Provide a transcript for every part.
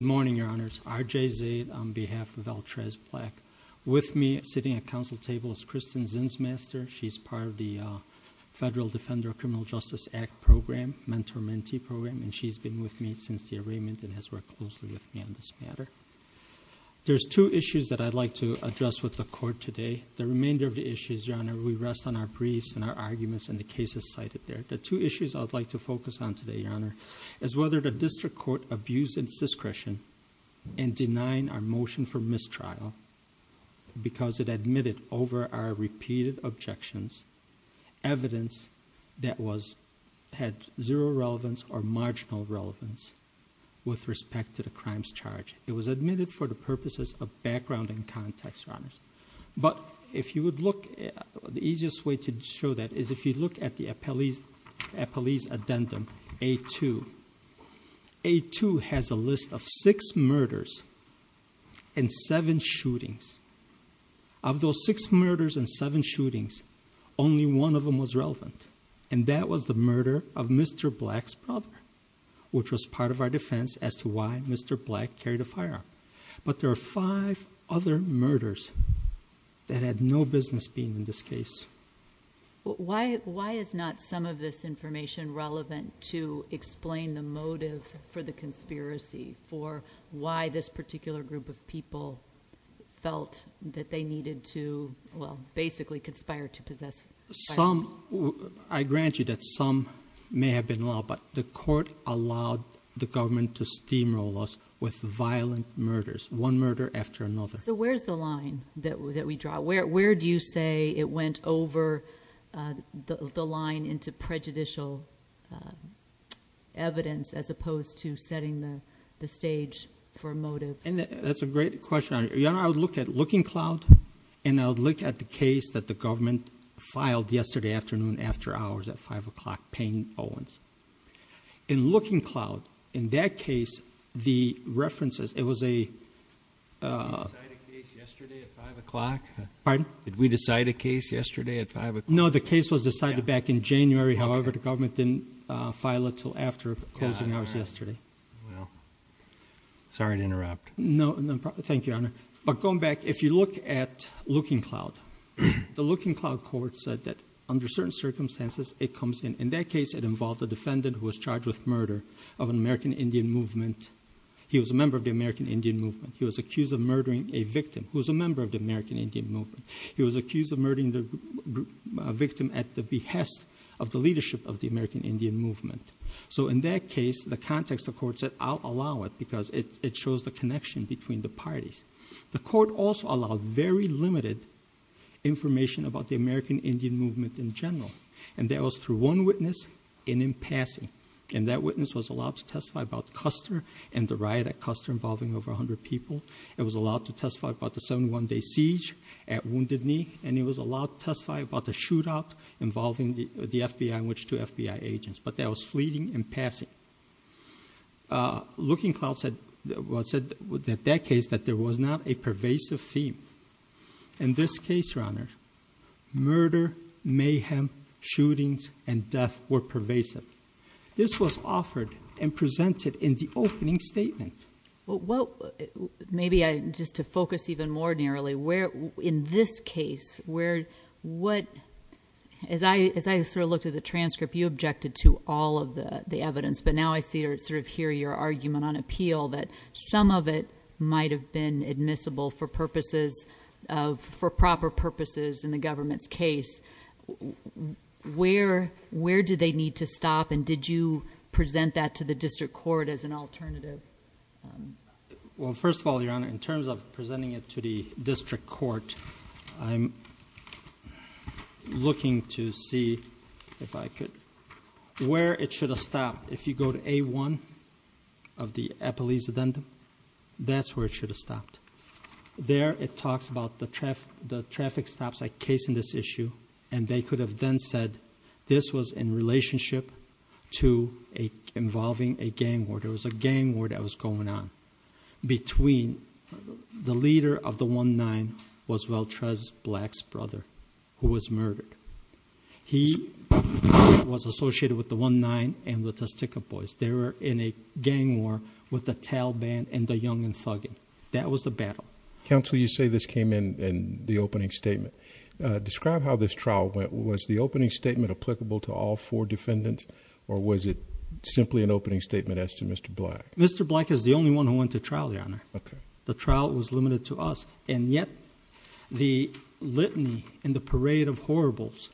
Good morning, your honors. R.J. Zaid on behalf of Altraz Black. With me, sitting at council table, is Kristen Zinsmaster. She's part of the Federal Defender of Criminal Justice Act program, mentor-mentee program, and she's been with me since the arraignment and has worked closely with me on this matter. There's two issues that I'd like to address with the court today. The remainder of the issues, your honor, we rest on our briefs and our arguments and the cases cited there. The two issues I'd like to focus on today, your honor, is whether the district court abused its discretion in denying our motion for mistrial because it admitted over our repeated objections, evidence that had zero relevance or marginal relevance with respect to the crimes charged. It was admitted for the purposes of background and context, your honors. But if you would look, the easiest way to show that is if you look at the appellee's addendum, A2. A2 has a list of six murders and seven shootings. Of those six murders and seven shootings, only one of them was relevant, and that was the murder of Mr. Black's brother, which was part of our defense as to why Mr. Black carried a firearm. But there are five other murders that had no business being in this case. Why is not some of this information relevant to explain the motive for the conspiracy for why this particular group of people felt that they needed to, well, basically conspire to possess firearms? I grant you that some may have been law, but the court allowed the government to steamroll us with violent murders, one murder after another. So where's the line that we draw? Where do you say it went over the line into prejudicial evidence as opposed to setting the stage for motive? That's a great question. Your honor, I would look at Looking Cloud, and I would look at the case that the government filed yesterday afternoon after hours at 5 o'clock, Payne Owens. In Looking Cloud, in that case, the references, it was a- Did we decide a case yesterday at 5 o'clock? Pardon? Did we decide a case yesterday at 5 o'clock? No, the case was decided back in January. However, the government didn't file it until after closing hours yesterday. Well, sorry to interrupt. No, thank you, your honor. But going back, if you look at Looking Cloud, the Looking Cloud court said that under certain circumstances, it comes in. In that case, it involved a defendant who was charged with murder of an American Indian movement. He was a member of the American Indian movement. He was accused of murdering a victim who was a member of the American Indian movement. He was accused of murdering the victim at the behest of the leadership of the American Indian movement. So in that case, the context of court said, I'll allow it because it shows the connection between the parties. The court also allowed very limited information about the American Indian movement in general. And that was through one witness and in passing. And that witness was allowed to testify about Custer and the riot at Custer involving over 100 people. It was allowed to testify about the 71-day siege at Wounded Knee. And he was allowed to testify about the shootout involving the FBI and which two FBI agents. But that was fleeting in passing. Looking Cloud said that that case, that there was not a pervasive theme. In this case, Your Honor, murder, mayhem, shootings, and death were pervasive. This was offered and presented in the opening statement. Maybe just to focus even more nearly, in this case, as I sort of looked at the transcript, you objected to all of the evidence. But now I sort of hear your argument on appeal that some of it might have been admissible for proper purposes in the government's case. Where do they need to stop? And did you present that to the district court as an alternative? Well, first of all, Your Honor, in terms of presenting it to the district court, I'm looking to see if I could, where it should have stopped. If you go to A1 of the Eppolese Addendum, that's where it should have stopped. There, it talks about the traffic stops that case in this issue. And they could have then said this was in relationship to involving a gang war. There was a gang war that was going on between the leader of the 1-9, was Valtrez Black's brother, who was murdered. He was associated with the 1-9 and with the Sticker Boys. They were in a gang war with the Taliban and the young and thugging. That was the battle. Counsel, you say this came in the opening statement. Describe how this trial went. Was the opening statement applicable to all four defendants, or was it simply an opening statement as to Mr. Black? Mr. Black is the only one who went to trial, Your Honor. The trial was limited to us, and yet the litany and the parade of horribles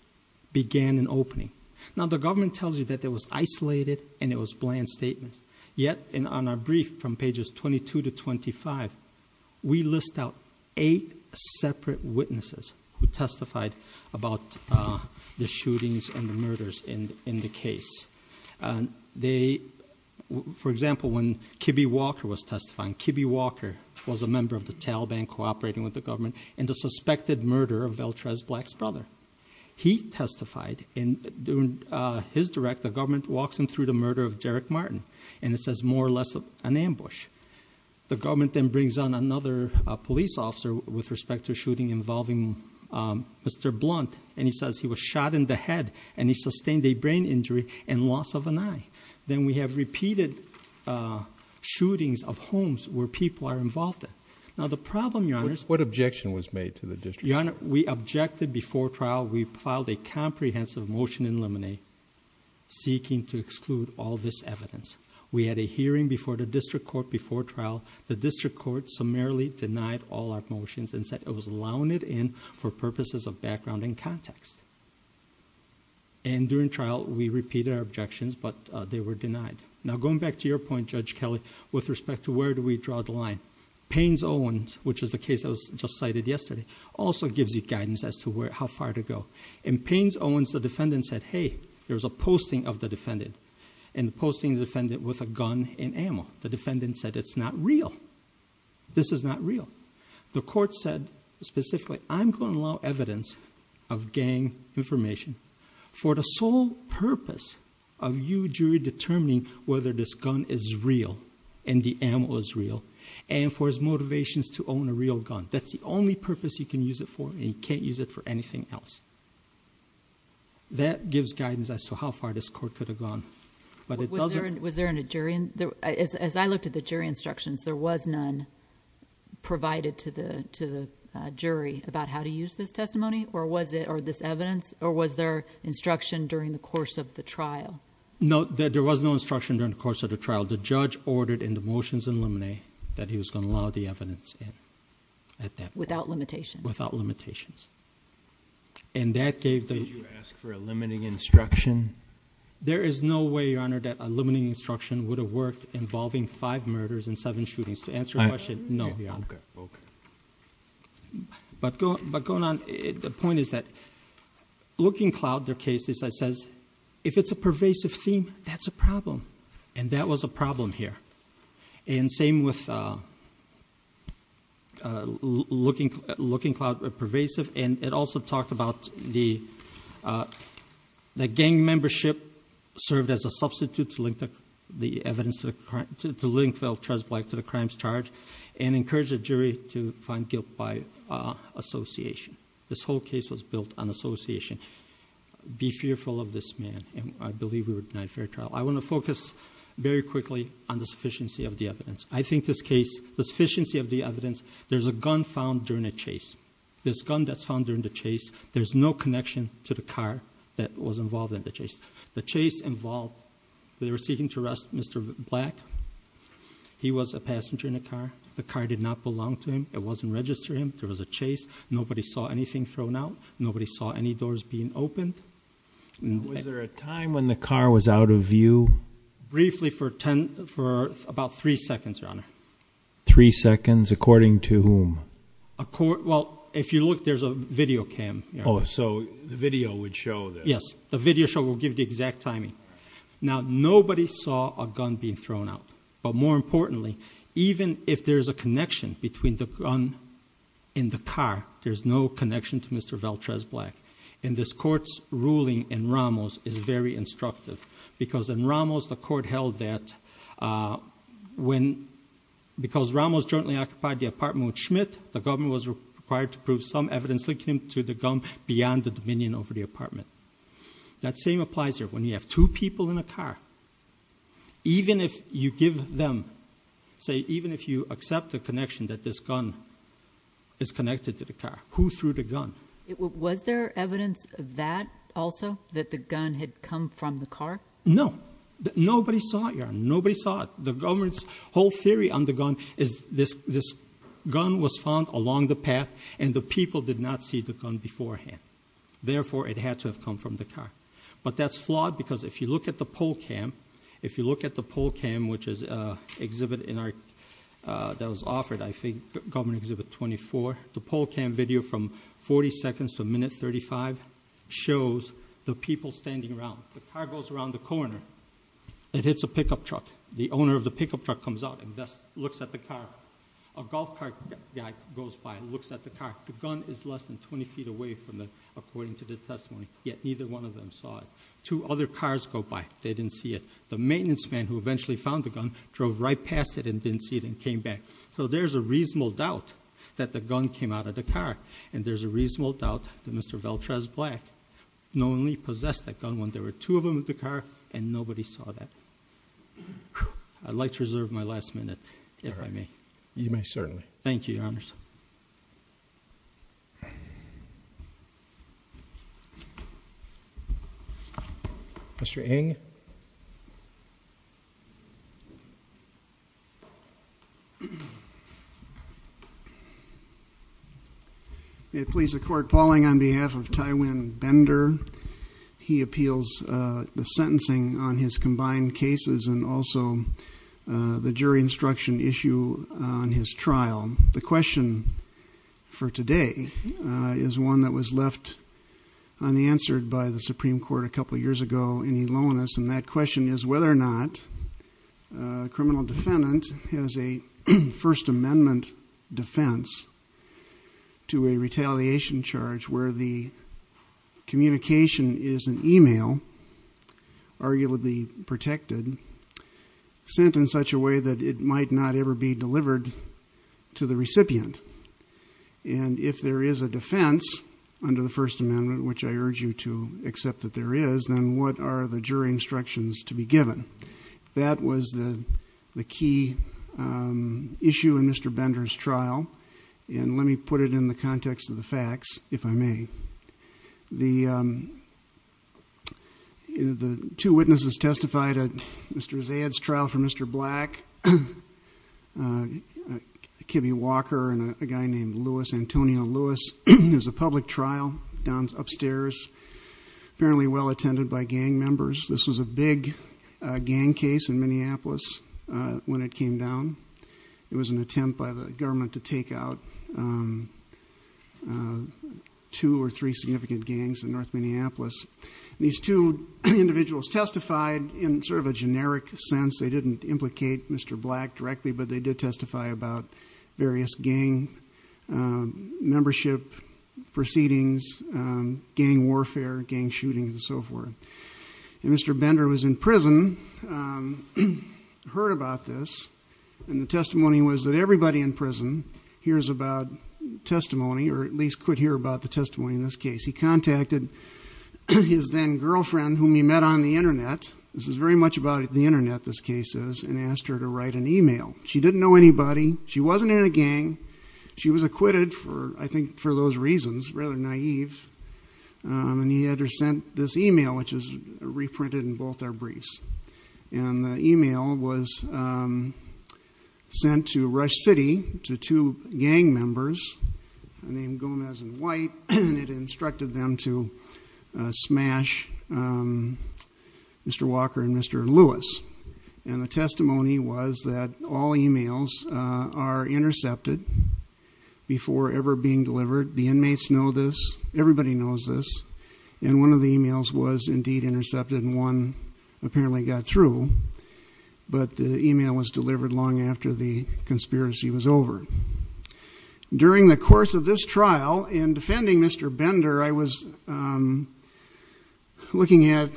began an opening. Now, the government tells you that it was isolated and it was bland statements. Yet, on our brief from pages 22 to 25, we list out eight separate witnesses who testified about the shootings and the murders in the case. For example, when Kibbe Walker was testifying, Kibbe Walker was a member of the Taliban cooperating with the government in the suspected murder of Valtrez Black's brother. He testified. During his direct, the government walks him through the murder of Derek Martin, and it says more or less an ambush. The government then brings on another police officer with respect to a shooting involving Mr. Blunt, and he says he was shot in the head, and he sustained a brain injury and loss of an eye. Then we have repeated shootings of homes where people are involved in. Now, the problem, Your Honor— What objection was made to the district attorney? Your Honor, we objected before trial. We filed a comprehensive motion in limine seeking to exclude all this evidence. We had a hearing before the district court before trial. The district court summarily denied all our motions and said it was allowed in for purposes of background and context. And during trial, we repeated our objections, but they were denied. Now, going back to your point, Judge Kelly, with respect to where do we draw the line, Payne's Owens, which is the case that was just cited yesterday, also gives you guidance as to how far to go. In Payne's Owens, the defendant said, hey, there's a posting of the defendant, and the posting of the defendant with a gun and ammo. The defendant said it's not real. This is not real. The court said specifically, I'm going to allow evidence of gang information for the sole purpose of you jury determining whether this gun is real and the ammo is real, and for his motivations to own a real gun. That's the only purpose you can use it for, and you can't use it for anything else. That gives guidance as to how far this court could have gone. Was there a jury? As I looked at the jury instructions, there was none provided to the jury about how to use this testimony or this evidence, or was there instruction during the course of the trial? No, there was no instruction during the course of the trial. The judge ordered in the motions in limine that he was going to allow the evidence in at that point. Without limitations? Without limitations. Did you ask for a limiting instruction? There is no way, Your Honor, that a limiting instruction would have worked involving five murders and seven shootings. To answer your question, no, Your Honor. Okay. But going on, the point is that looking at Cloud, their case, it says if it's a pervasive theme, that's a problem, and that was a problem here. And same with looking at Cloud, pervasive, and it also talked about the gang membership served as a substitute to link the evidence to the crimes charged and encouraged the jury to find guilt by association. This whole case was built on association. Be fearful of this man, and I believe we were denied fair trial. I want to focus very quickly on the sufficiency of the evidence. I think this case, the sufficiency of the evidence, there's a gun found during a chase. This gun that's found during the chase, there's no connection to the car that was involved in the chase. The chase involved, they were seeking to arrest Mr. Black. He was a passenger in a car. The car did not belong to him. It wasn't registered to him. There was a chase. Nobody saw anything thrown out. Nobody saw any doors being opened. Was there a time when the car was out of view? Briefly for about three seconds, Your Honor. Three seconds? According to whom? Well, if you look, there's a video cam. Oh, so the video would show this. Yes, the video show will give the exact timing. Now, nobody saw a gun being thrown out, but more importantly, even if there's a connection between the gun and the car, there's no connection to Mr. Valtrez Black. And this Court's ruling in Ramos is very instructive. Because in Ramos, the Court held that because Ramos jointly occupied the apartment with Schmidt, the government was required to prove some evidence linking him to the gun beyond the dominion over the apartment. That same applies here. When you have two people in a car, even if you give them, say, even if you accept the connection that this gun is connected to the car, who threw the gun? Was there evidence of that also, that the gun had come from the car? No. Nobody saw it, Your Honor. Nobody saw it. The government's whole theory on the gun is this gun was found along the path, and the people did not see the gun beforehand. Therefore, it had to have come from the car. But that's flawed because if you look at the poll cam, if you look at the poll cam, which is an exhibit that was offered, I think, Government Exhibit 24, the poll cam video from 40 seconds to a minute 35 shows the people standing around. The car goes around the corner. It hits a pickup truck. The owner of the pickup truck comes out and looks at the car. A golf cart guy goes by and looks at the car. The gun is less than 20 feet away from it, according to the testimony, yet neither one of them saw it. Two other cars go by. They didn't see it. The maintenance man who eventually found the gun drove right past it and didn't see it and came back. So there's a reasonable doubt that the gun came out of the car, and there's a reasonable doubt that Mr. Veltraz Black knowingly possessed that gun when there were two of them in the car and nobody saw that. I'd like to reserve my last minute, if I may. You may certainly. Thank you, Your Honors. Mr. Ng? May it please the Court, Paul Ng on behalf of Tywin Bender. He appeals the sentencing on his combined cases and also the jury instruction issue on his trial. The question for today is one that was left unanswered by the Supreme Court a couple years ago in Elonis, and that question is whether or not a criminal defendant has a First Amendment defense to a retaliation charge where the communication is an email, arguably protected, sent in such a way that it might not ever be delivered to the recipient. And if there is a defense under the First Amendment, which I urge you to accept that there is, then what are the jury instructions to be given? That was the key issue in Mr. Bender's trial, and let me put it in the context of the facts, if I may. The two witnesses testified at Mr. Zaid's trial for Mr. Black, Kibby Walker, and a guy named Louis, Antonio Louis. It was a public trial downstairs, apparently well attended by gang members. This was a big gang case in Minneapolis when it came down. It was an attempt by the government to take out two or three significant gangs in North Minneapolis. These two individuals testified in sort of a generic sense. They didn't implicate Mr. Black directly, but they did testify about various gang membership proceedings, gang warfare, gang shootings, and so forth. And Mr. Bender was in prison, heard about this, and the testimony was that everybody in prison hears about testimony, or at least could hear about the testimony in this case. He contacted his then-girlfriend, whom he met on the Internet. This is very much about the Internet, this case is, and asked her to write an email. She didn't know anybody. She wasn't in a gang. She was acquitted, I think, for those reasons, rather naive. And he had her send this email, which is reprinted in both our briefs. And the email was sent to Rush City to two gang members named Gomez and White, and it instructed them to smash Mr. Walker and Mr. Louis. And the testimony was that all emails are intercepted before ever being delivered. The inmates know this. Everybody knows this. And one of the emails was indeed intercepted, and one apparently got through. But the email was delivered long after the conspiracy was over. During the course of this trial, in defending Mr. Bender, I was looking at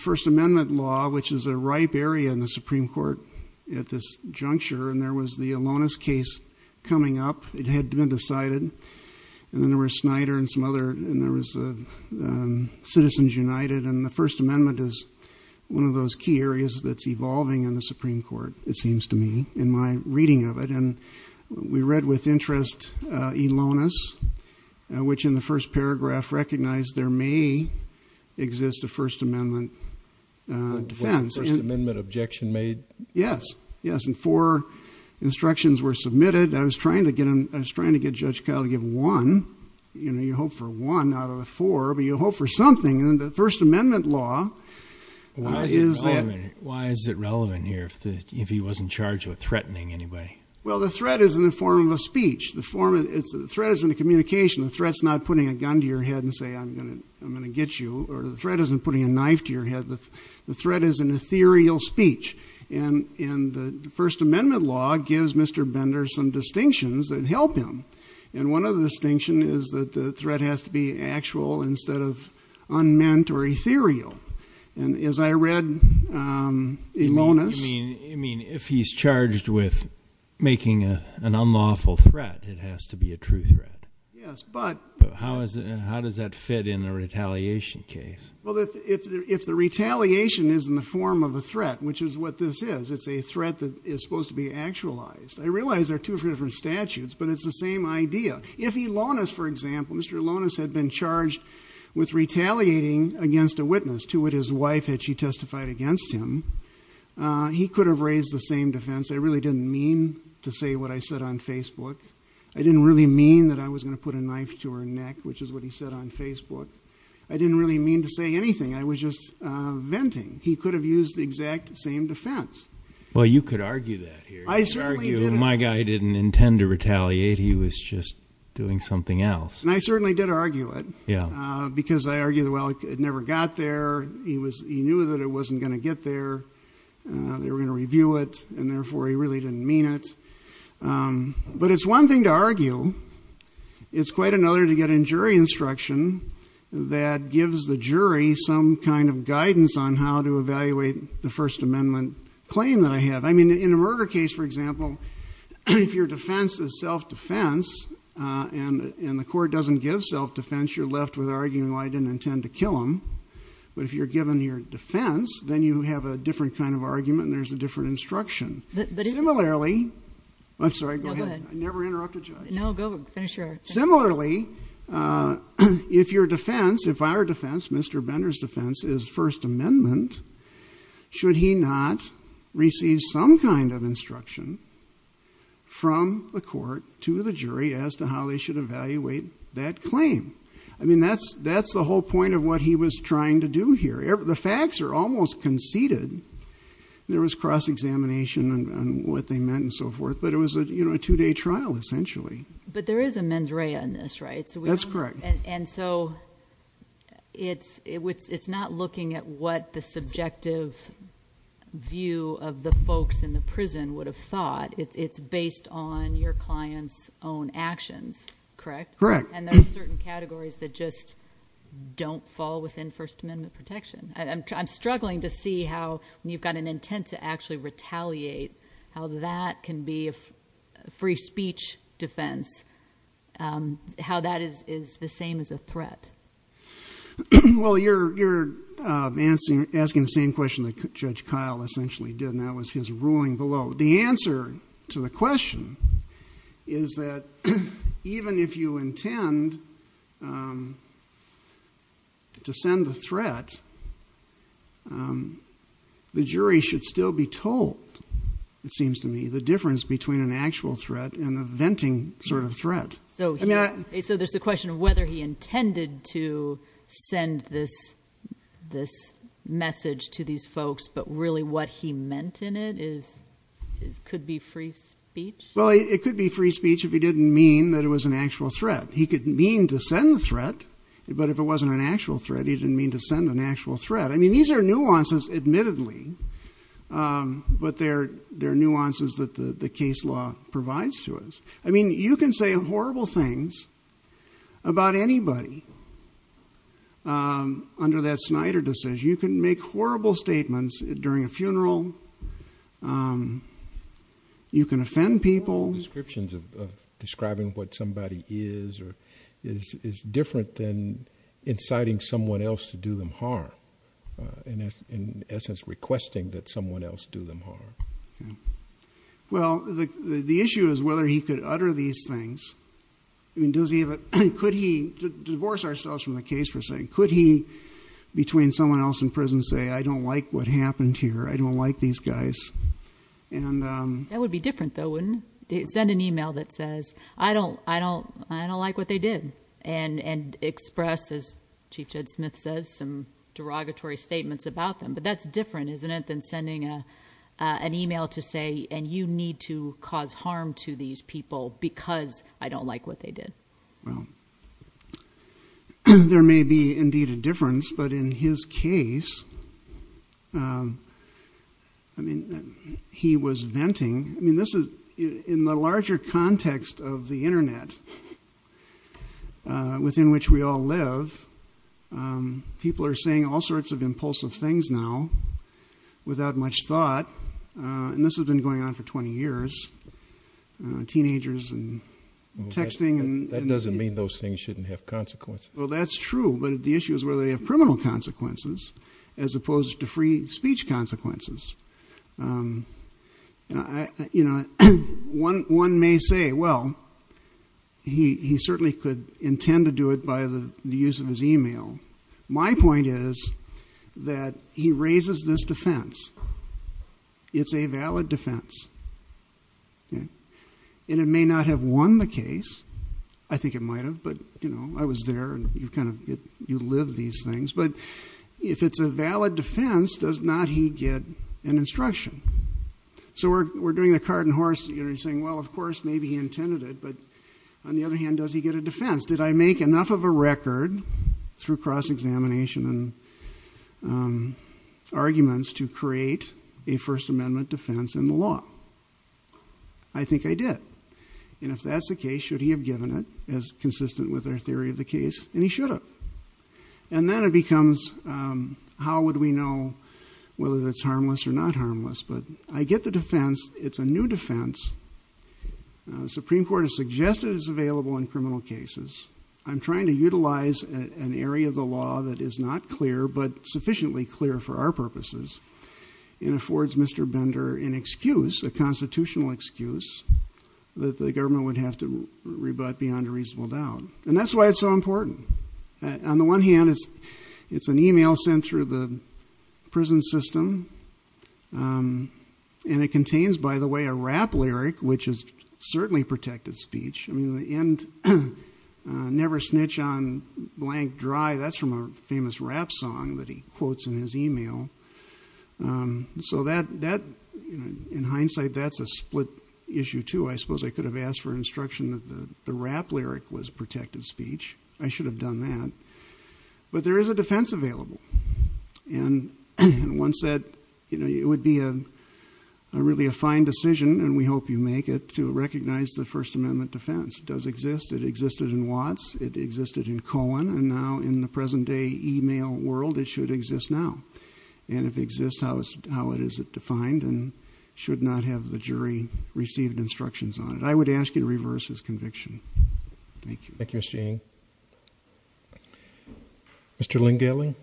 First Amendment law, which is a ripe area in the Supreme Court, at this juncture, and there was the Alonis case coming up. It had been decided. And then there was Snyder and some other, and there was Citizens United. And the First Amendment is one of those key areas that's evolving in the Supreme Court, it seems to me, in my reading of it. And we read with interest Alonis, which in the first paragraph recognized there may exist a First Amendment defense. Was the First Amendment objection made? Yes. Yes, and four instructions were submitted. I was trying to get Judge Kyle to give one. You know, you hope for one out of the four, but you hope for something. And the First Amendment law is that. Why is it relevant here if he wasn't charged with threatening anybody? Well, the threat is in the form of a speech. The threat is in the communication. The threat is not putting a gun to your head and saying, I'm going to get you. Or the threat isn't putting a knife to your head. The threat is an ethereal speech. And the First Amendment law gives Mr. Bender some distinctions that help him. And one of the distinctions is that the threat has to be actual instead of unmeant or ethereal. And as I read Alonis. You mean if he's charged with making an unlawful threat, it has to be a true threat. Yes, but how does that fit in a retaliation case? Well, if the retaliation is in the form of a threat, which is what this is, it's a threat that is supposed to be actualized. I realize there are two different statutes, but it's the same idea. If Alonis, for example, Mr. Alonis had been charged with retaliating against a witness to what his wife had she testified against him, he could have raised the same defense. I really didn't mean to say what I said on Facebook. I didn't really mean that I was going to put a knife to her neck, which is what he said on Facebook. I didn't really mean to say anything. I was just venting. He could have used the exact same defense. Well, you could argue that here. My guy didn't intend to retaliate. He was just doing something else. And I certainly did argue it because I argued, well, it never got there. He knew that it wasn't going to get there. They were going to review it, and therefore he really didn't mean it. But it's one thing to argue. It's quite another to get a jury instruction that gives the jury some kind of guidance on how to evaluate the First Amendment claim that I have. I mean, in a murder case, for example, if your defense is self-defense and the court doesn't give self-defense, you're left with arguing, well, I didn't intend to kill him. But if you're given your defense, then you have a different kind of argument and there's a different instruction. I'm sorry. Go ahead. I never interrupted you. No, go. Finish your argument. Similarly, if your defense, if our defense, Mr. Bender's defense, is First Amendment, should he not receive some kind of instruction from the court to the jury as to how they should evaluate that claim? I mean, that's the whole point of what he was trying to do here. The facts are almost conceded. There was cross-examination on what they meant and so forth, but it was a two-day trial, essentially. But there is a mens rea in this, right? That's correct. And so it's not looking at what the subjective view of the folks in the prison would have thought. It's based on your client's own actions, correct? Correct. And there are certain categories that just don't fall within First Amendment protection. I'm struggling to see how, when you've got an intent to actually retaliate, how that can be a free speech defense, how that is the same as a threat. Well, you're asking the same question that Judge Kyle essentially did, and that was his ruling below. The answer to the question is that even if you intend to send a threat, the jury should still be told, it seems to me, the difference between an actual threat and a venting sort of threat. So there's the question of whether he intended to send this message to these folks, but really what he meant in it could be free speech? Well, it could be free speech if he didn't mean that it was an actual threat. He could mean to send the threat, but if it wasn't an actual threat, he didn't mean to send an actual threat. I mean, these are nuances, admittedly, but they're nuances that the case law provides to us. I mean, you can say horrible things about anybody under that Snyder decision. You can make horrible statements during a funeral. You can offend people. What are the descriptions of describing what somebody is or is different than inciting someone else to do them harm and, in essence, requesting that someone else do them harm? Well, the issue is whether he could utter these things. I mean, could he divorce ourselves from the case for saying, could he between someone else in prison say, I don't like what happened here, I don't like these guys? That would be different, though, wouldn't it? Send an email that says, I don't like what they did, and express, as Chief Judge Smith says, some derogatory statements about them. But that's different, isn't it, than sending an email to say, and you need to cause harm to these people because I don't like what they did. Well, there may be indeed a difference, but in his case, I mean, he was venting. I mean, in the larger context of the Internet within which we all live, people are saying all sorts of impulsive things now without much thought, and this has been going on for 20 years. Teenagers and texting. That doesn't mean those things shouldn't have consequences. Well, that's true, but the issue is whether they have criminal consequences as opposed to free speech consequences. One may say, well, he certainly could intend to do it by the use of his email. My point is that he raises this defense. It's a valid defense, and it may not have won the case. I think it might have, but, you know, I was there, and you live these things. But if it's a valid defense, does not he get an instruction? So we're doing the cart and horse, saying, well, of course, maybe he intended it, but on the other hand, does he get a defense? Did I make enough of a record through cross-examination and arguments to create a First Amendment defense in the law? I think I did. And if that's the case, should he have given it as consistent with our theory of the case? And he should have. And then it becomes how would we know whether that's harmless or not harmless? But I get the defense. It's a new defense. The Supreme Court has suggested it's available in criminal cases. I'm trying to utilize an area of the law that is not clear but sufficiently clear for our purposes and affords Mr. Bender an excuse, a constitutional excuse, that the government would have to rebut beyond a reasonable doubt. And that's why it's so important. On the one hand, it's an email sent through the prison system, and it contains, by the way, a rap lyric, which is certainly protected speech. I mean, the end, never snitch on blank dry, that's from a famous rap song that he quotes in his email. So that, in hindsight, that's a split issue too. I suppose I could have asked for instruction that the rap lyric was protected speech. I should have done that. But there is a defense available. And one said it would be really a fine decision, and we hope you make it, to recognize the First Amendment defense. It does exist. It existed in Watts. It existed in Cohen. And now in the present-day email world, it should exist now. And if it exists, how is it defined and should not have the jury received instructions on it? I would ask you to reverse his conviction. Thank you. Thank you, Mr. Eng. Mr. Lingaling.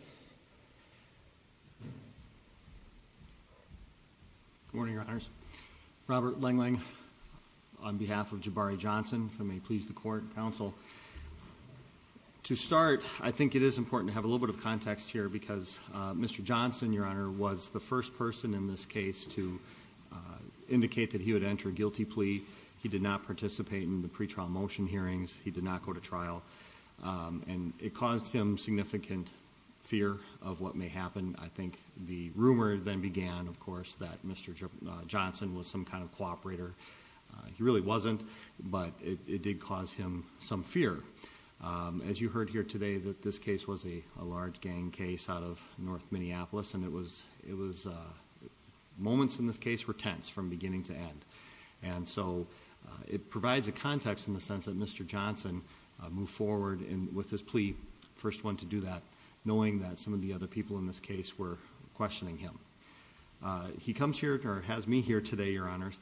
Good morning, Your Honors. Robert Lingling on behalf of Jabari Johnson from a Pleas the Court counsel. To start, I think it is important to have a little bit of context here because Mr. Johnson, Your Honor, was the first person in this case to indicate that he would enter a guilty plea. He did not participate in the pretrial motion hearings. He did not go to trial. And it caused him significant fear of what may happen. I think the rumor then began, of course, that Mr. Johnson was some kind of cooperator. He really wasn't, but it did cause him some fear. As you heard here today, this case was a large gang case out of north Minneapolis, and so it provides a context in the sense that Mr. Johnson moved forward with his plea, the first one to do that, knowing that some of the other people in this case were questioning him. He comes here, or has me here today, Your Honors,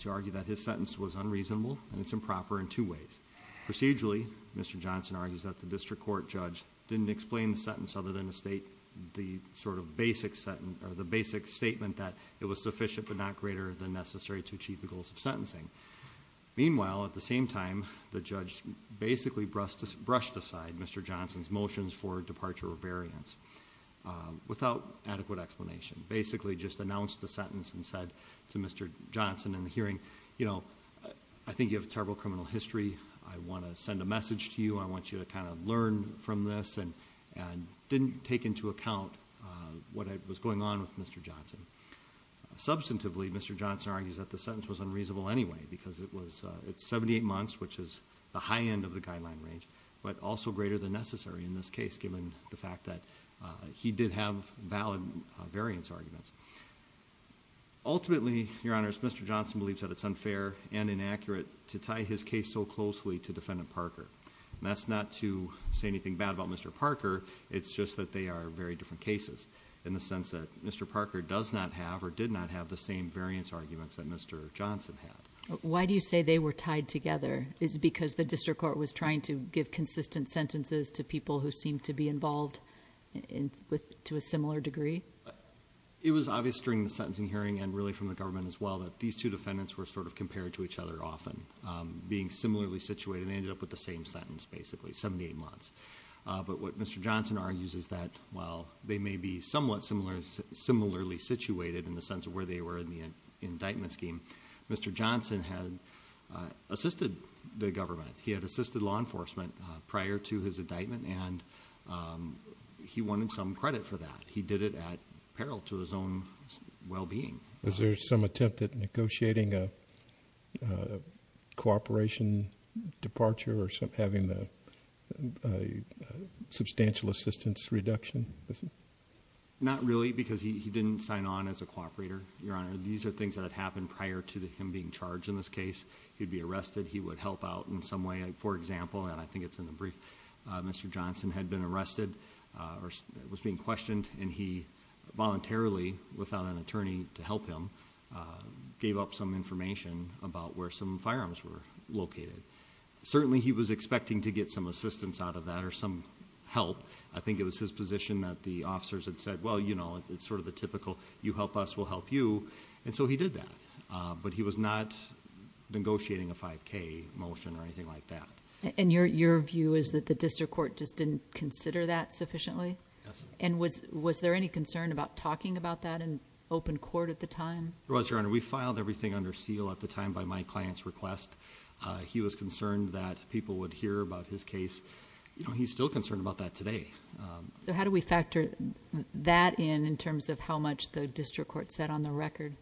to argue that his sentence was unreasonable, and it's improper in two ways. Procedurally, Mr. Johnson argues that the district court judge didn't explain the sentence other than the state, the sort of basic statement that it was sufficient but not greater than necessary to achieve the goals of sentencing. Meanwhile, at the same time, the judge basically brushed aside Mr. Johnson's motions for departure or variance without adequate explanation. Basically just announced the sentence and said to Mr. Johnson in the hearing, you know, I think you have a terrible criminal history. I want to send a message to you. I want you to kind of learn from this and didn't take into account what was going on with Mr. Johnson. Substantively, Mr. Johnson argues that the sentence was unreasonable anyway, because it's 78 months, which is the high end of the guideline range, but also greater than necessary in this case given the fact that he did have valid variance arguments. Ultimately, Your Honors, Mr. Johnson believes that it's unfair and inaccurate to tie his case so closely to Defendant Parker, and that's not to say anything bad about Mr. Parker. It's just that they are very different cases in the sense that Mr. Parker does not have or did not have the same variance arguments that Mr. Johnson had. Why do you say they were tied together? Is it because the district court was trying to give consistent sentences to people who seemed to be involved to a similar degree? It was obvious during the sentencing hearing and really from the government as well that these two defendants were sort of compared to each other often, being similarly situated, and they ended up with the same sentence basically, 78 months. But what Mr. Johnson argues is that while they may be somewhat similarly situated in the sense of where they were in the indictment scheme, Mr. Johnson had assisted the government. He had assisted law enforcement prior to his indictment, and he wanted some credit for that. He did it at peril to his own well-being. Was there some attempt at negotiating a cooperation departure or having a substantial assistance reduction? Not really because he didn't sign on as a cooperator, Your Honor. These are things that had happened prior to him being charged in this case. He'd be arrested. He would help out in some way. For example, and I think it's in the brief, Mr. Johnson had been arrested or was being questioned, and he voluntarily, without an attorney to help him, gave up some information about where some firearms were located. Certainly he was expecting to get some assistance out of that or some help. I think it was his position that the officers had said, well, you know, it's sort of the typical you help us, we'll help you, and so he did that. But he was not negotiating a 5K motion or anything like that. And your view is that the district court just didn't consider that sufficiently? Yes. And was there any concern about talking about that in open court at the time? There was, Your Honor. We filed everything under seal at the time by my client's request. He was concerned that people would hear about his case. You know, he's still concerned about that today. So how do we factor that in in terms of how much the district court said on the record?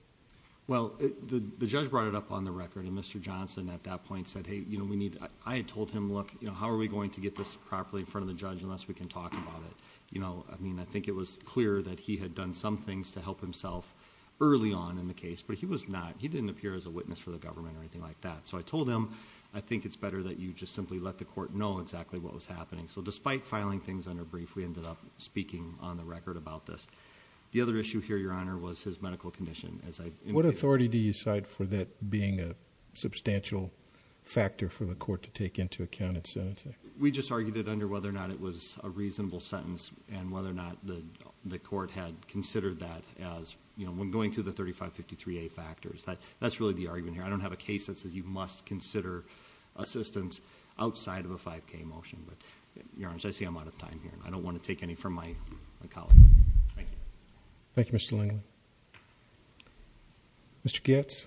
Well, the judge brought it up on the record, and Mr. Johnson at that point said, hey, you know, we need... I mean, I think it was clear that he had done some things to help himself early on in the case. But he was not... he didn't appear as a witness for the government or anything like that. So I told him, I think it's better that you just simply let the court know exactly what was happening. So despite filing things under brief, we ended up speaking on the record about this. The other issue here, Your Honor, was his medical condition. What authority do you cite for that being a substantial factor for the court to take into account in sentencing? We just argued it under whether or not it was a reasonable sentence. And whether or not the court had considered that as, you know, when going through the 3553A factors. That's really the argument here. I don't have a case that says you must consider assistance outside of a 5K motion. But, Your Honor, as I say, I'm out of time here. I don't want to take any from my colleague. Thank you, Mr. Lindland. Mr. Goetz?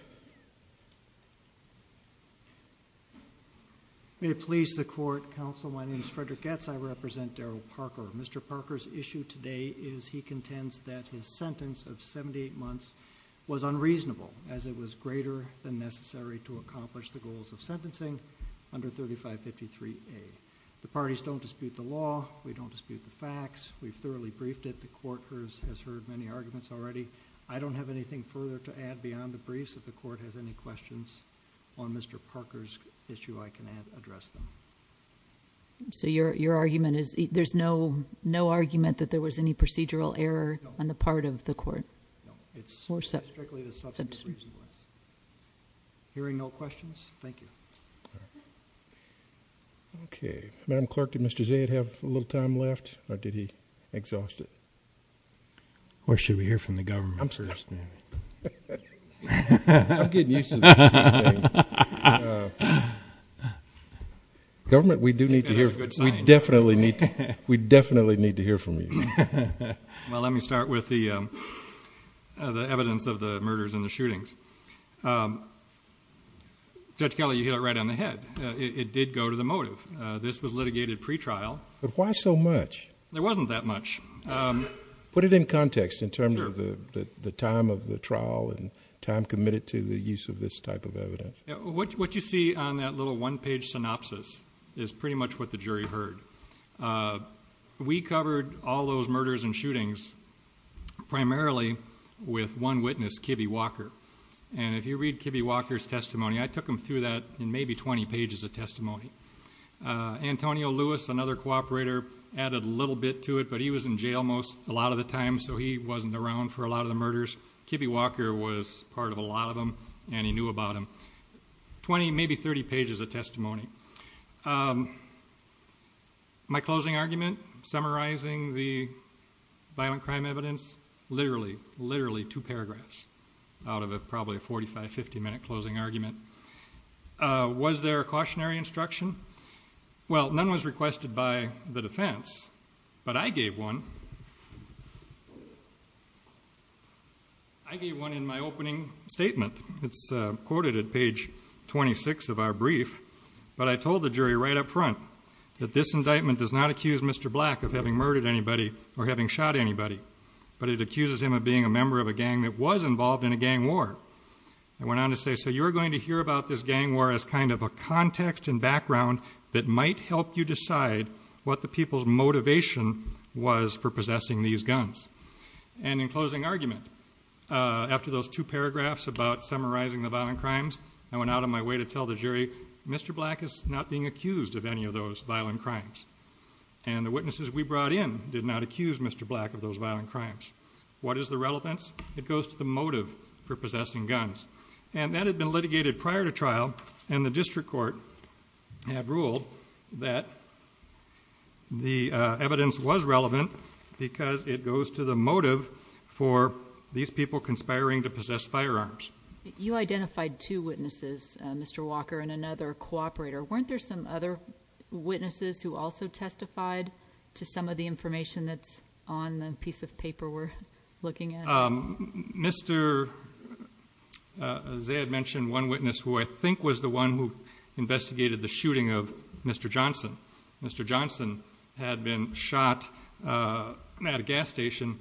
May it please the Court, Counsel. My name is Frederick Goetz. I represent Daryl Parker. Mr. Parker's issue today is he contends that his sentence of 78 months was unreasonable as it was greater than necessary to accomplish the goals of sentencing under 3553A. The parties don't dispute the law. We don't dispute the facts. We've thoroughly briefed it. The Court has heard many arguments already. I don't have anything further to add beyond the briefs. If the Court has any questions on Mr. Parker's issue, I can address them. So your argument is there's no argument that there was any procedural error on the part of the Court? No. It's strictly the substantive reason. Hearing no questions, thank you. Okay. Madam Clerk, did Mr. Zaid have a little time left, or did he exhaust it? Or should we hear from the government first? I'm getting used to this. Government, we do need to hear from you. That's a good sign. We definitely need to hear from you. Well, let me start with the evidence of the murders and the shootings. Judge Kelly, you hit it right on the head. It did go to the motive. This was litigated pretrial. But why so much? There wasn't that much. Put it in context in terms of the time of the trial and time committed to the use of this type of evidence. What you see on that little one-page synopsis is pretty much what the jury heard. We covered all those murders and shootings primarily with one witness, Kibbe Walker. And if you read Kibbe Walker's testimony, I took him through that in maybe 20 pages of testimony. Antonio Lewis, another cooperator, added a little bit to it. But he was in jail a lot of the time, so he wasn't around for a lot of the murders. Kibbe Walker was part of a lot of them, and he knew about them. 20, maybe 30 pages of testimony. My closing argument, summarizing the violent crime evidence. Literally, literally two paragraphs out of probably a 45, 50-minute closing argument. Was there a cautionary instruction? Well, none was requested by the defense. But I gave one. I gave one in my opening statement. It's quoted at page 26 of our brief. But I told the jury right up front that this indictment does not accuse Mr. Black of having murdered anybody or having shot anybody. But it accuses him of being a member of a gang that was involved in a gang war. I went on to say, so you're going to hear about this gang war as kind of a context and background that might help you decide what the people's motivation was for possessing these guns. And in closing argument, after those two paragraphs about summarizing the violent crimes, I went out on my way to tell the jury, Mr. Black is not being accused of any of those violent crimes. And the witnesses we brought in did not accuse Mr. Black of those violent crimes. What is the relevance? It goes to the motive for possessing guns. And that had been litigated prior to trial, and the district court had ruled that the evidence was relevant because it goes to the motive for these people conspiring to possess firearms. You identified two witnesses, Mr. Walker and another cooperator. Weren't there some other witnesses who also testified to some of the information that's on the piece of paper we're looking at? Mr. Zaid mentioned one witness who I think was the one who investigated the shooting of Mr. Johnson. Mr. Johnson had been shot at a gas station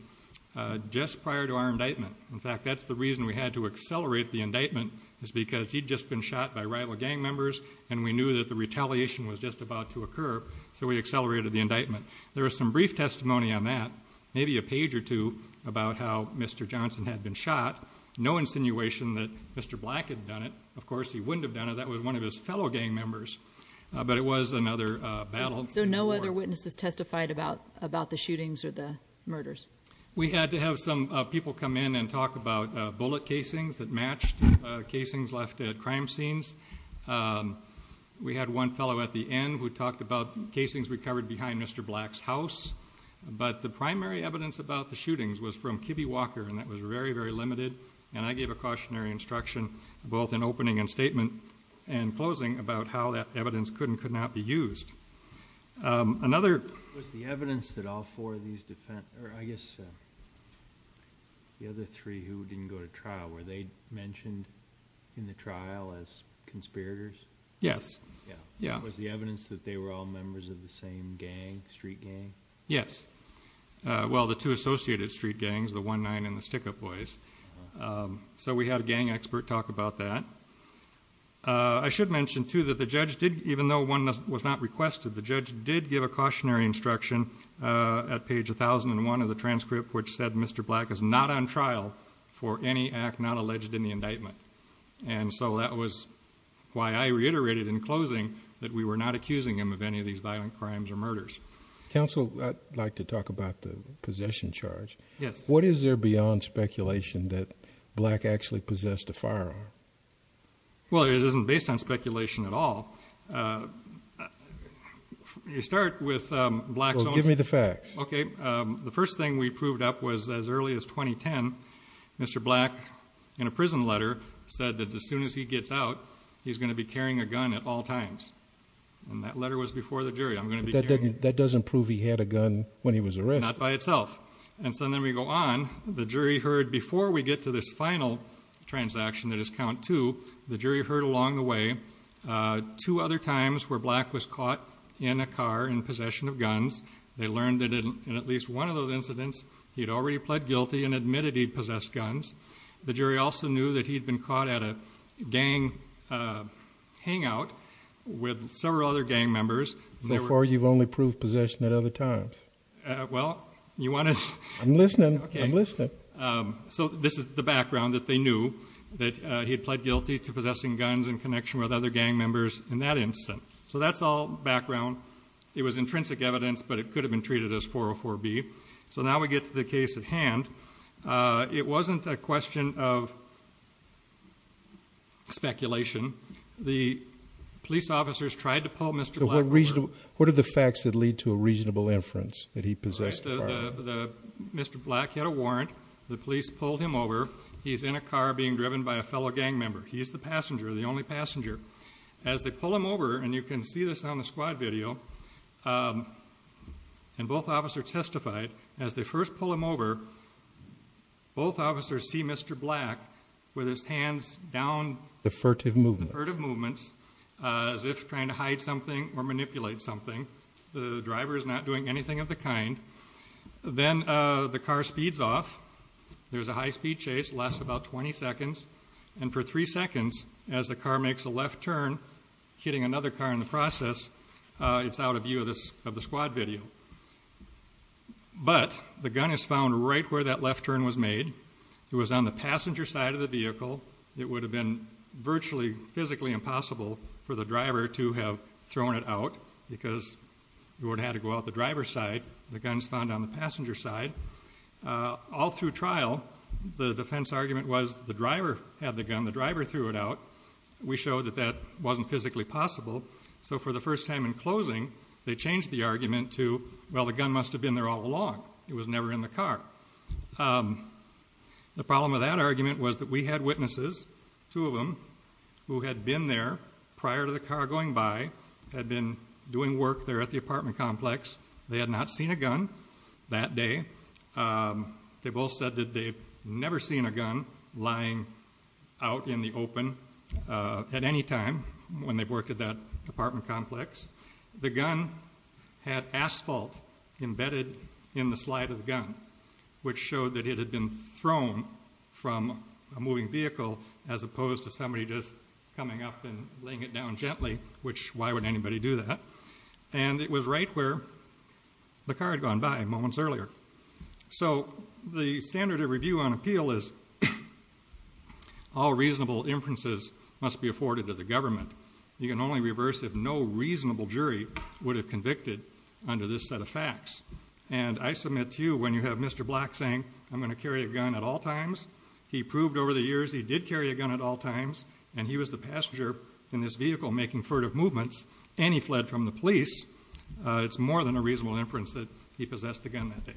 just prior to our indictment. In fact, that's the reason we had to accelerate the indictment is because he'd just been shot by rival gang members, and we knew that the retaliation was just about to occur, so we accelerated the indictment. There was some brief testimony on that, maybe a page or two, about how Mr. Johnson had been shot. No insinuation that Mr. Black had done it. Of course, he wouldn't have done it. That was one of his fellow gang members, but it was another battle. So no other witnesses testified about the shootings or the murders? We had to have some people come in and talk about bullet casings that matched casings left at crime scenes. We had one fellow at the end who talked about casings recovered behind Mr. Black's house, but the primary evidence about the shootings was from Kibbe Walker, and that was very, very limited, and I gave a cautionary instruction both in opening and statement and closing about how that evidence could and could not be used. Was the evidence that all four of these defendants, or I guess the other three who didn't go to trial, were they mentioned in the trial as conspirators? Yes. Was the evidence that they were all members of the same gang, street gang? Yes. Well, the two associated street gangs, the One-Nine and the Stick-Up Boys. So we had a gang expert talk about that. I should mention, too, that the judge did, even though one was not requested, the judge did give a cautionary instruction at page 1001 of the transcript which said Mr. Black is not on trial for any act not alleged in the indictment, and so that was why I reiterated in closing that we were not accusing him of any of these violent crimes or murders. Counsel, I'd like to talk about the possession charge. Yes. What is there beyond speculation that Black actually possessed a firearm? Well, it isn't based on speculation at all. You start with Black's own... Well, give me the facts. Okay. The first thing we proved up was as early as 2010, Mr. Black, in a prison letter, said that as soon as he gets out, he's going to be carrying a gun at all times. And that letter was before the jury. I'm going to be carrying... That doesn't prove he had a gun when he was arrested. Not by itself. And so then we go on. The jury heard before we get to this final transaction that is count two. The jury heard along the way two other times where Black was caught in a car in possession of guns. They learned that in at least one of those incidents he had already pled guilty and admitted he possessed guns. The jury also knew that he had been caught at a gang hangout with several other gang members. So far you've only proved possession at other times. Well, you want to... I'm listening. I'm listening. So this is the background that they knew, that he had pled guilty to possessing guns in connection with other gang members in that incident. So that's all background. It was intrinsic evidence, but it could have been treated as 404B. So now we get to the case at hand. It wasn't a question of speculation. The police officers tried to pull Mr. Black... What are the facts that lead to a reasonable inference that he possessed firearms? Mr. Black had a warrant. The police pulled him over. He's in a car being driven by a fellow gang member. He's the passenger, the only passenger. As they pull him over, and you can see this on the squad video, and both officers testified, as they first pull him over, both officers see Mr. Black with his hands down... Defertive movements. As if trying to hide something or manipulate something. The driver is not doing anything of the kind. Then the car speeds off. There's a high-speed chase. It lasts about 20 seconds. And for three seconds, as the car makes a left turn, hitting another car in the process, it's out of view of the squad video. But the gun is found right where that left turn was made. It was on the passenger side of the vehicle. It would have been virtually physically impossible for the driver to have thrown it out because it would have had to go out the driver's side. The gun's found on the passenger side. All through trial, the defense argument was the driver had the gun. The driver threw it out. We showed that that wasn't physically possible. So for the first time in closing, they changed the argument to, well, the gun must have been there all along. It was never in the car. The problem with that argument was that we had witnesses, two of them, who had been there prior to the car going by, had been doing work there at the apartment complex. They had not seen a gun that day. They both said that they've never seen a gun lying out in the open at any time when they've worked at that apartment complex. The gun had asphalt embedded in the slide of the gun, which showed that it had been thrown from a moving vehicle as opposed to somebody just coming up and laying it down gently, which why would anybody do that? And it was right where the car had gone by moments earlier. So the standard of review on appeal is all reasonable inferences must be afforded to the government. You can only reverse if no reasonable jury would have convicted under this set of facts. And I submit to you, when you have Mr. Black saying, I'm going to carry a gun at all times, he proved over the years he did carry a gun at all times, and he was the passenger in this vehicle making furtive movements, and he fled from the police, it's more than a reasonable inference that he possessed the gun that day.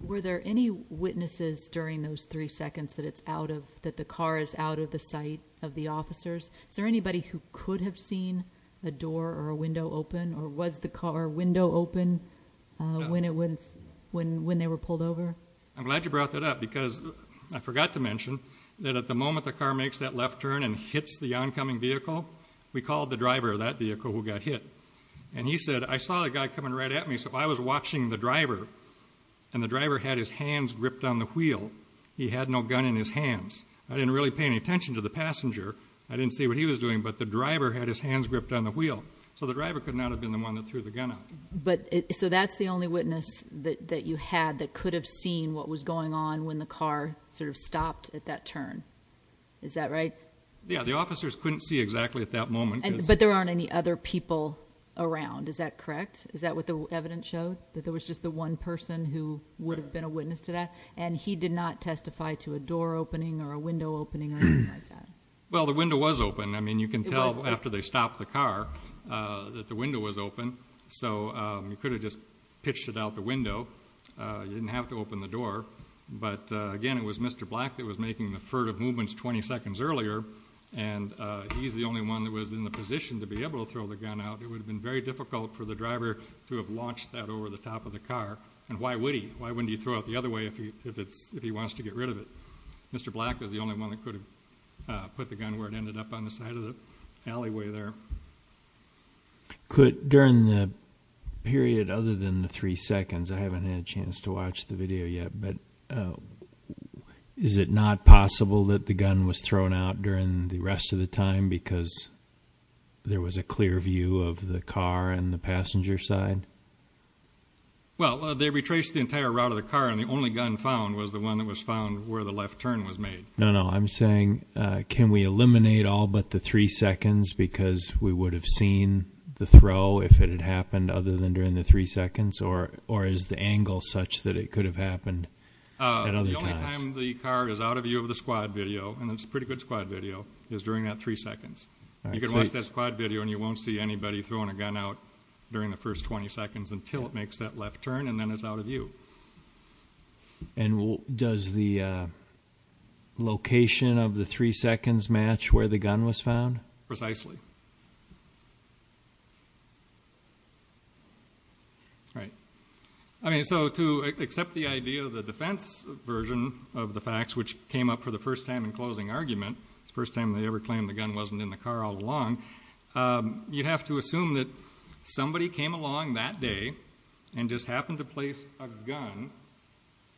Were there any witnesses during those three seconds that the car is out of the sight of the officers? Is there anybody who could have seen a door or a window open, or was the car window open when they were pulled over? I'm glad you brought that up because I forgot to mention that at the moment the car makes that left turn and hits the oncoming vehicle, we called the driver of that vehicle who got hit. And he said, I saw the guy coming right at me, so I was watching the driver, and the driver had his hands gripped on the wheel. He had no gun in his hands. I didn't really pay any attention to the passenger. I didn't see what he was doing, but the driver had his hands gripped on the wheel, so the driver could not have been the one that threw the gun out. So that's the only witness that you had that could have seen what was going on when the car sort of stopped at that turn. Is that right? Yeah, the officers couldn't see exactly at that moment. But there aren't any other people around, is that correct? Is that what the evidence showed, that there was just the one person who would have been a witness to that? And he did not testify to a door opening or a window opening or anything like that? Well, the window was open. I mean, you can tell after they stopped the car that the window was open. So you could have just pitched it out the window. You didn't have to open the door. But, again, it was Mr. Black that was making the furtive movements 20 seconds earlier, and he's the only one that was in the position to be able to throw the gun out. It would have been very difficult for the driver to have launched that over the top of the car. And why would he? Why wouldn't he throw it the other way if he wants to get rid of it? Mr. Black was the only one that could have put the gun where it ended up, on the side of the alleyway there. During the period other than the three seconds, I haven't had a chance to watch the video yet, but is it not possible that the gun was thrown out during the rest of the time because there was a clear view of the car and the passenger side? Well, they retraced the entire route of the car, and the only gun found was the one that was found where the left turn was made. No, no. I'm saying can we eliminate all but the three seconds because we would have seen the throw if it had happened other than during the three seconds, or is the angle such that it could have happened at other times? The only time the car is out of view of the squad video, and it's a pretty good squad video, is during that three seconds. You can watch that squad video, and you won't see anybody throwing a gun out during the first 20 seconds until it makes that left turn, and then it's out of view. And does the location of the three seconds match where the gun was found? Precisely. All right. So to accept the idea of the defense version of the facts, which came up for the first time in closing argument, the first time they ever claimed the gun wasn't in the car all along, you have to assume that somebody came along that day and just happened to place a gun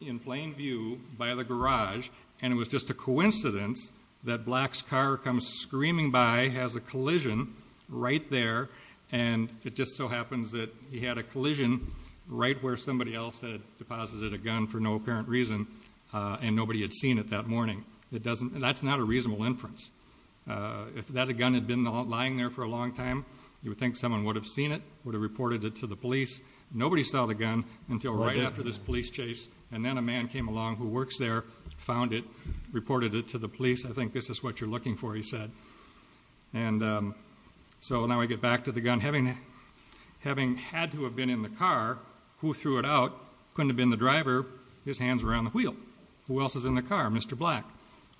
in plain view by the garage, and it was just a coincidence that Black's car comes screaming by, has a collision right there, and it just so happens that he had a collision right where somebody else had deposited a gun for no apparent reason, and nobody had seen it that morning. That's not a reasonable inference. If that gun had been lying there for a long time, you would think someone would have seen it, would have reported it to the police. Nobody saw the gun until right after this police chase, and then a man came along who works there, found it, reported it to the police. I think this is what you're looking for, he said. So now we get back to the gun having had to have been in the car. Who threw it out? Couldn't have been the driver. His hands were on the wheel. Who else is in the car? Mr. Black.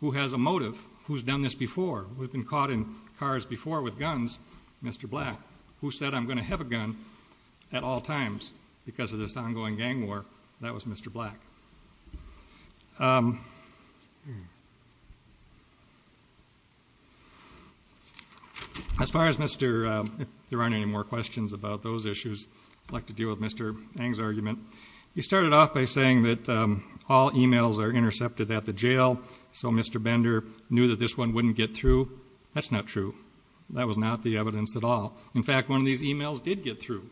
Who has a motive? Who's done this before? Who's been caught in cars before with guns? Mr. Black. Who said, I'm going to have a gun at all times because of this ongoing gang war? That was Mr. Black. As far as Mr. If there aren't any more questions about those issues, I'd like to deal with Mr. Ng's argument. He started off by saying that all e-mails are intercepted at the jail, so Mr. Bender knew that this one wouldn't get through. That's not true. That was not the evidence at all. In fact, one of these e-mails did get through.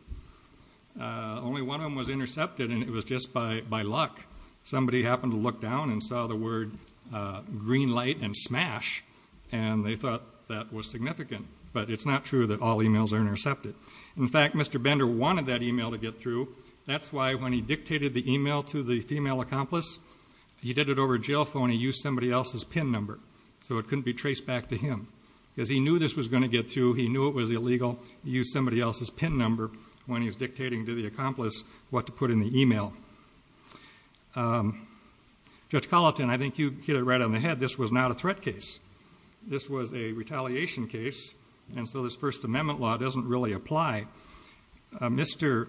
Only one of them was intercepted, and it was just by luck. Somebody happened to look down and saw the word green light and smash, and they thought that was significant. But it's not true that all e-mails are intercepted. In fact, Mr. Bender wanted that e-mail to get through. That's why when he dictated the e-mail to the female accomplice, he did it over a jail phone and used somebody else's PIN number so it couldn't be traced back to him. Because he knew this was going to get through. He knew it was illegal. He used somebody else's PIN number when he was dictating to the accomplice what to put in the e-mail. Judge Colleton, I think you hit it right on the head. This was not a threat case. This was a retaliation case, and so this First Amendment law doesn't really apply. Mr.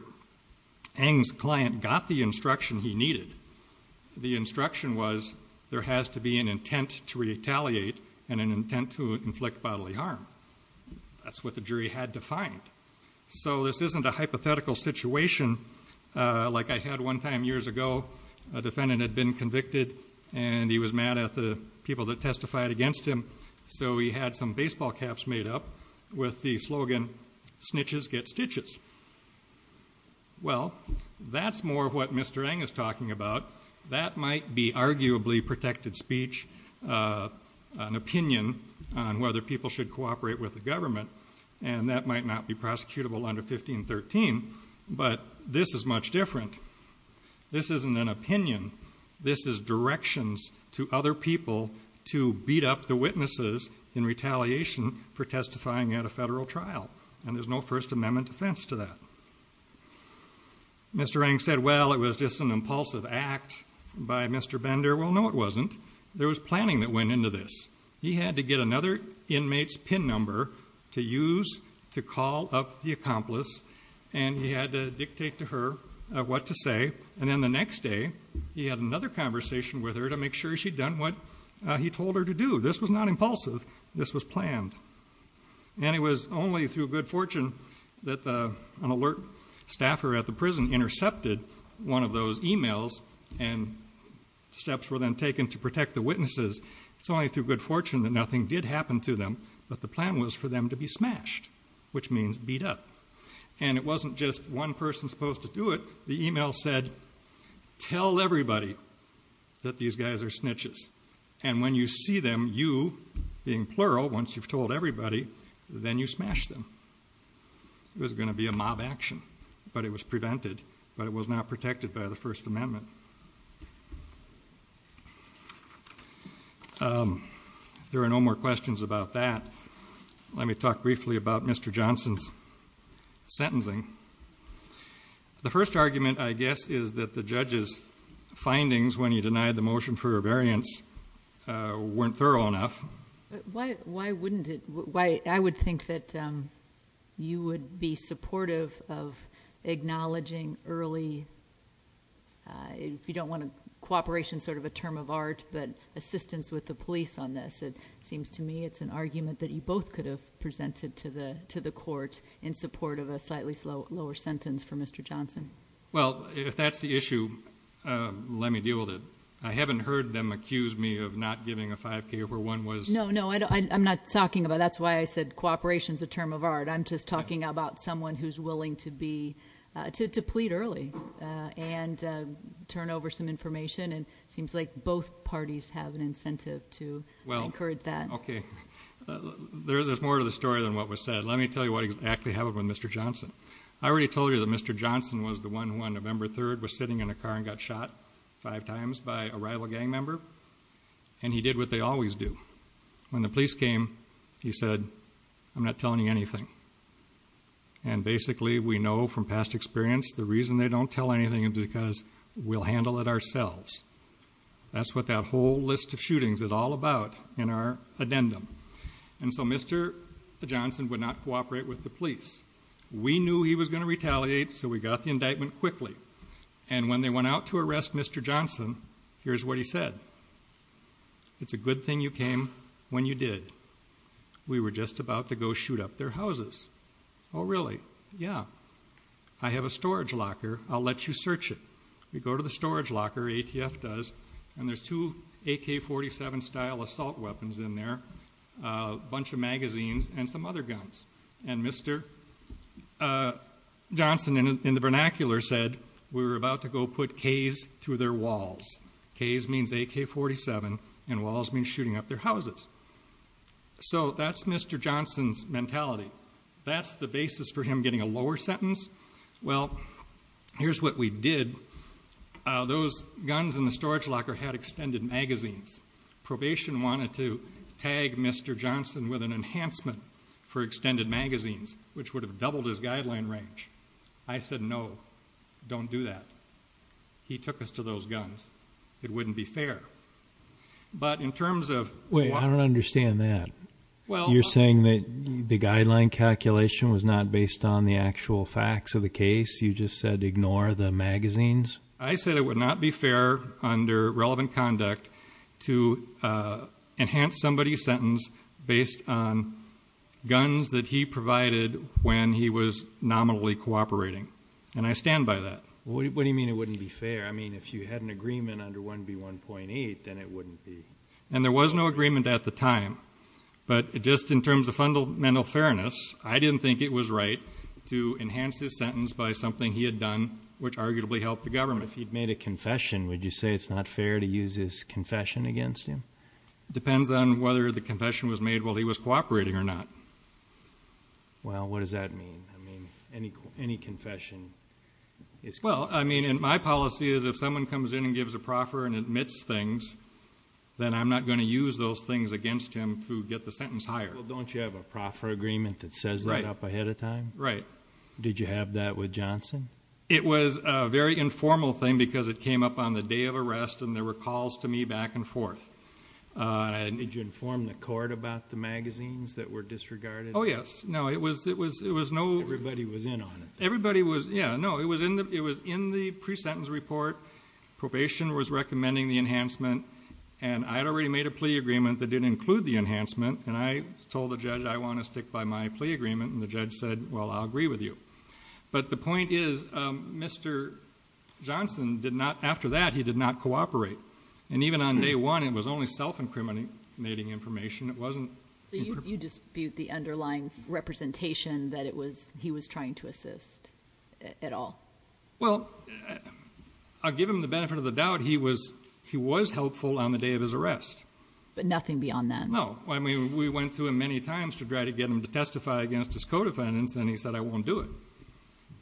Eng's client got the instruction he needed. The instruction was there has to be an intent to retaliate and an intent to inflict bodily harm. That's what the jury had to find. So this isn't a hypothetical situation like I had one time years ago. A defendant had been convicted, and he was mad at the people that testified against him, so he had some baseball caps made up with the slogan snitches get stitches. Well, that's more what Mr. Eng is talking about. That might be arguably protected speech, an opinion on whether people should cooperate with the government, and that might not be prosecutable under 1513, but this is much different. This isn't an opinion. This is directions to other people to beat up the witnesses in retaliation for testifying at a federal trial, and there's no First Amendment defense to that. Mr. Eng said, well, it was just an impulsive act by Mr. Bender. Well, no, it wasn't. There was planning that went into this. He had to get another inmate's PIN number to use to call up the accomplice, and he had to dictate to her what to say, and then the next day he had another conversation with her to make sure she'd done what he told her to do. This was not impulsive. This was planned, and it was only through good fortune that an alert staffer at the prison intercepted one of those e-mails and steps were then taken to protect the witnesses. It's only through good fortune that nothing did happen to them, but the plan was for them to be smashed, which means beat up, and it wasn't just one person supposed to do it. The e-mail said, tell everybody that these guys are snitches, and when you see them, you, being plural, once you've told everybody, then you smash them. It was going to be a mob action, but it was prevented, but it was not protected by the First Amendment. If there are no more questions about that, let me talk briefly about Mr. Johnson's sentencing. I would think that you would be supportive of acknowledging early, if you don't want to, cooperation is sort of a term of art, but assistance with the police on this. It seems to me it's an argument that you both could have presented to the court in support of a slightly lower sentence for Mr. Johnson. I haven't heard them accuse me of not giving a 5K where one was. No, no, I'm not talking about it. That's why I said cooperation is a term of art. I'm just talking about someone who's willing to plead early and turn over some information, and it seems like both parties have an incentive to encourage that. Okay. There's more to the story than what was said. Let me tell you what exactly happened with Mr. Johnson. I already told you that Mr. Johnson was the one who, on November 3rd, was sitting in a car and got shot five times by a rival gang member, and he did what they always do. When the police came, he said, I'm not telling you anything, and basically we know from past experience the reason they don't tell anything is because we'll handle it ourselves. That's what that whole list of shootings is all about in our addendum, and so Mr. Johnson would not cooperate with the police. We knew he was going to retaliate, so we got the indictment quickly, and when they went out to arrest Mr. Johnson, here's what he said. It's a good thing you came when you did. We were just about to go shoot up their houses. Oh, really? Yeah. I have a storage locker. I'll let you search it. You go to the storage locker, ATF does, and there's two AK-47-style assault weapons in there, a bunch of magazines, and some other guns, and Mr. Johnson, in the vernacular, said, we were about to go put K's through their walls. K's means AK-47, and walls means shooting up their houses. So that's Mr. Johnson's mentality. That's the basis for him getting a lower sentence. Well, here's what we did. Those guns in the storage locker had extended magazines. Probation wanted to tag Mr. Johnson with an enhancement for extended magazines, which would have doubled his guideline range. I said, no, don't do that. He took us to those guns. It wouldn't be fair. Wait, I don't understand that. You're saying that the guideline calculation was not based on the actual facts of the case? You just said ignore the magazines? I said it would not be fair under relevant conduct to enhance somebody's sentence based on guns that he provided when he was nominally cooperating. And I stand by that. What do you mean it wouldn't be fair? I mean, if you had an agreement under 1B1.8, then it wouldn't be. And there was no agreement at the time. But just in terms of fundamental fairness, I didn't think it was right to enhance his sentence by something he had done, which arguably helped the government. Well, if he'd made a confession, would you say it's not fair to use his confession against him? It depends on whether the confession was made while he was cooperating or not. Well, what does that mean? I mean, any confession is... Well, I mean, my policy is if someone comes in and gives a proffer and admits things, then I'm not going to use those things against him to get the sentence higher. Well, don't you have a proffer agreement that says that up ahead of time? Right. Did you have that with Johnson? It was a very informal thing because it came up on the day of arrest and there were calls to me back and forth. Did you inform the court about the magazines that were disregarded? Oh, yes. No, it was no... Everybody was in on it. Everybody was... Yeah, no, it was in the pre-sentence report. Probation was recommending the enhancement, and I'd already made a plea agreement that didn't include the enhancement, and I told the judge I want to stick by my plea agreement, and the judge said, well, I'll agree with you. But the point is Mr. Johnson did not... After that, he did not cooperate. And even on day one, it was only self-incriminating information. It wasn't... So you dispute the underlying representation that he was trying to assist at all? Well, I'll give him the benefit of the doubt. He was helpful on the day of his arrest. But nothing beyond that? No. I mean, we went to him many times to try to get him to testify against his co-defendants, and he said, I won't do it.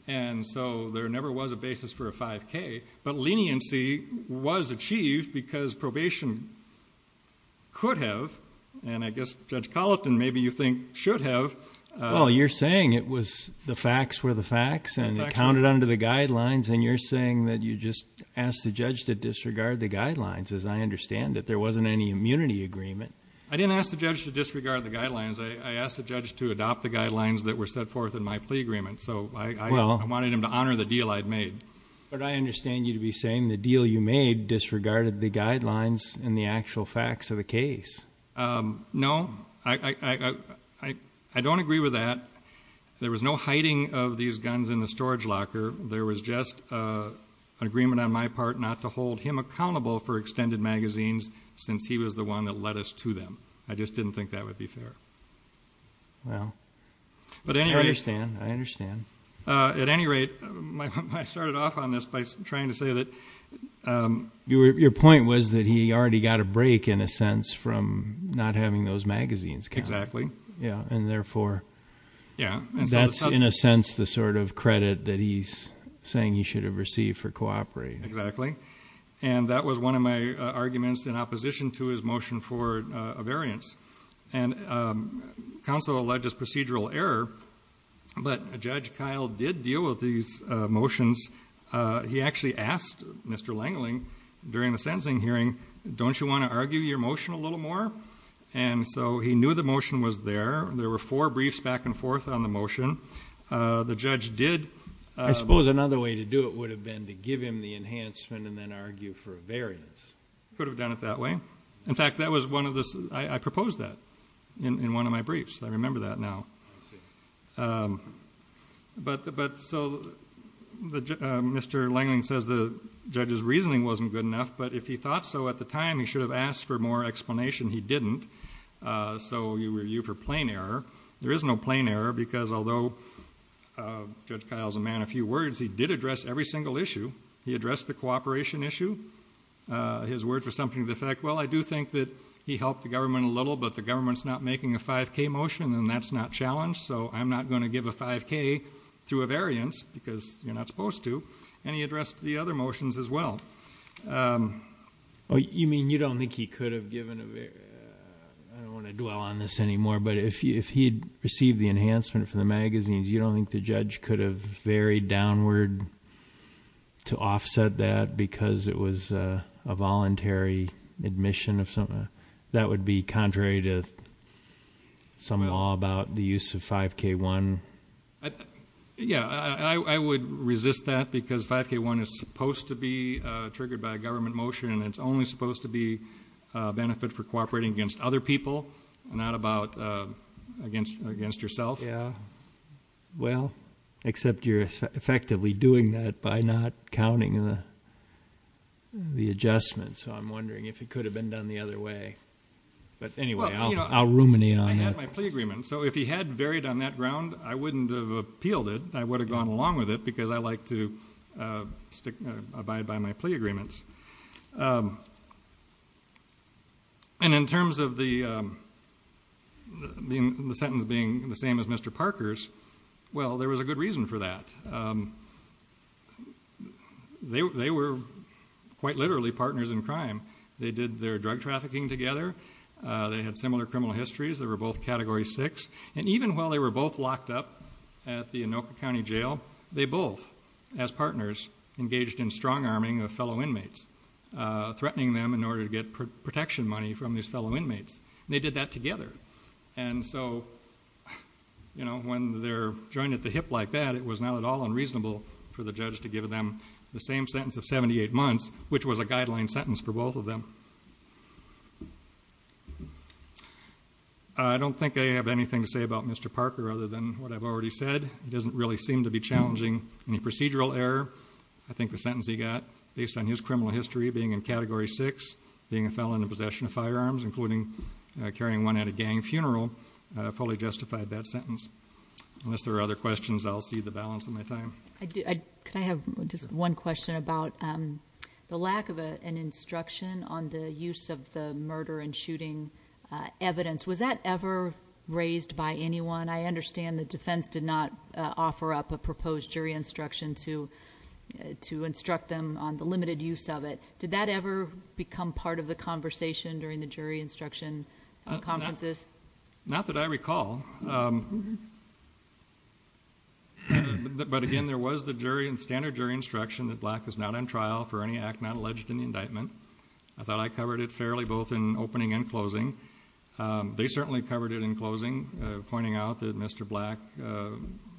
And so there never was a basis for a 5K. But leniency was achieved because probation could have, and I guess Judge Colleton, maybe you think, should have... Well, you're saying it was the facts were the facts and it counted under the guidelines, and you're saying that you just asked the judge to disregard the guidelines, as I understand it. I didn't ask the judge to disregard the guidelines. I asked the judge to adopt the guidelines that were set forth in my plea agreement. So I wanted him to honor the deal I'd made. But I understand you to be saying the deal you made disregarded the guidelines and the actual facts of the case. No. I don't agree with that. There was no hiding of these guns in the storage locker. There was just an agreement on my part not to hold him accountable for extended magazines since he was the one that led us to them. I just didn't think that would be fair. Well, I understand. I understand. At any rate, I started off on this by trying to say that... Your point was that he already got a break, in a sense, from not having those magazines counted. Exactly. Yeah, and therefore that's, in a sense, the sort of credit that he's saying he should have received for cooperating. Exactly. And that was one of my arguments in opposition to his motion for a variance. And counsel alleges procedural error, but Judge Kyle did deal with these motions. He actually asked Mr. Langling during the sentencing hearing, don't you want to argue your motion a little more? And so he knew the motion was there. There were four briefs back and forth on the motion. The judge did... I suppose another way to do it would have been to give him the enhancement and then argue for a variance. Could have done it that way. In fact, that was one of the... I proposed that in one of my briefs. I remember that now. I see. But so Mr. Langling says the judge's reasoning wasn't good enough, but if he thought so at the time, he should have asked for more explanation. He didn't. So you review for plain error. There is no plain error because although Judge Kyle's a man of few words, he did address every single issue. He addressed the cooperation issue. His words were something to the effect, well, I do think that he helped the government a little, but the government's not making a 5K motion and that's not challenged, so I'm not going to give a 5K to a variance because you're not supposed to. And he addressed the other motions as well. You mean you don't think he could have given a... I don't want to dwell on this anymore, but if he had received the enhancement from the magazines, you don't think the judge could have varied downward to offset that because it was a voluntary admission of something? That would be contrary to some law about the use of 5K1. Yeah, I would resist that because 5K1 is supposed to be triggered by a government motion and it's only supposed to be a benefit for cooperating against other people and not against yourself. Yeah. Well, except you're effectively doing that by not counting the adjustment, so I'm wondering if it could have been done the other way. But anyway, I'll ruminate on that. I had my plea agreement, so if he had varied on that ground, I wouldn't have appealed it. I would have gone along with it because I like to abide by my plea agreements. And in terms of the sentence being the same as Mr. Parker's, well, there was a good reason for that. They were quite literally partners in crime. They did their drug trafficking together. They had similar criminal histories. They were both Category 6. And even while they were both locked up at the Anoka County Jail, they both, as partners, engaged in strong-arming of fellow inmates, threatening them in order to get protection money from these fellow inmates. They did that together. And so, you know, when they're joined at the hip like that, it was not at all unreasonable for the judge to give them the same sentence of 78 months, which was a guideline sentence for both of them. I don't think I have anything to say about Mr. Parker other than what I've already said. It doesn't really seem to be challenging any procedural error. I think the sentence he got, based on his criminal history, being in Category 6, being a felon in possession of firearms, including carrying one at a gang funeral, fully justified that sentence. Unless there are other questions, I'll cede the balance of my time. Could I have just one question about the lack of an instruction on the use of the murder and shooting evidence? Was that ever raised by anyone? I understand the defense did not offer up a proposed jury instruction to instruct them on the limited use of it. Did that ever become part of the conversation during the jury instruction conferences? Not that I recall. But, again, there was the standard jury instruction that Black is not on trial for any act not alleged in the indictment. I thought I covered it fairly both in opening and closing. They certainly covered it in closing, pointing out that Mr. Black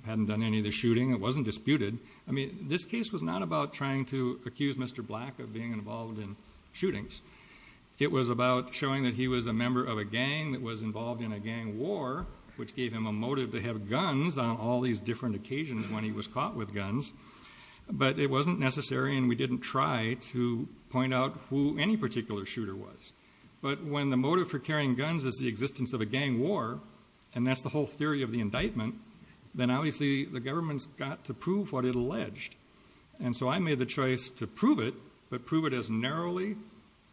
hadn't done any of the shooting. It wasn't disputed. I mean, this case was not about trying to accuse Mr. Black of being involved in shootings. It was about showing that he was a member of a gang that was involved in a gang war, which gave him a motive to have guns on all these different occasions when he was caught with guns. But it wasn't necessary, and we didn't try to point out who any particular shooter was. But when the motive for carrying guns is the existence of a gang war, and that's the whole theory of the indictment, then obviously the government's got to prove what it alleged. And so I made the choice to prove it, but prove it as narrowly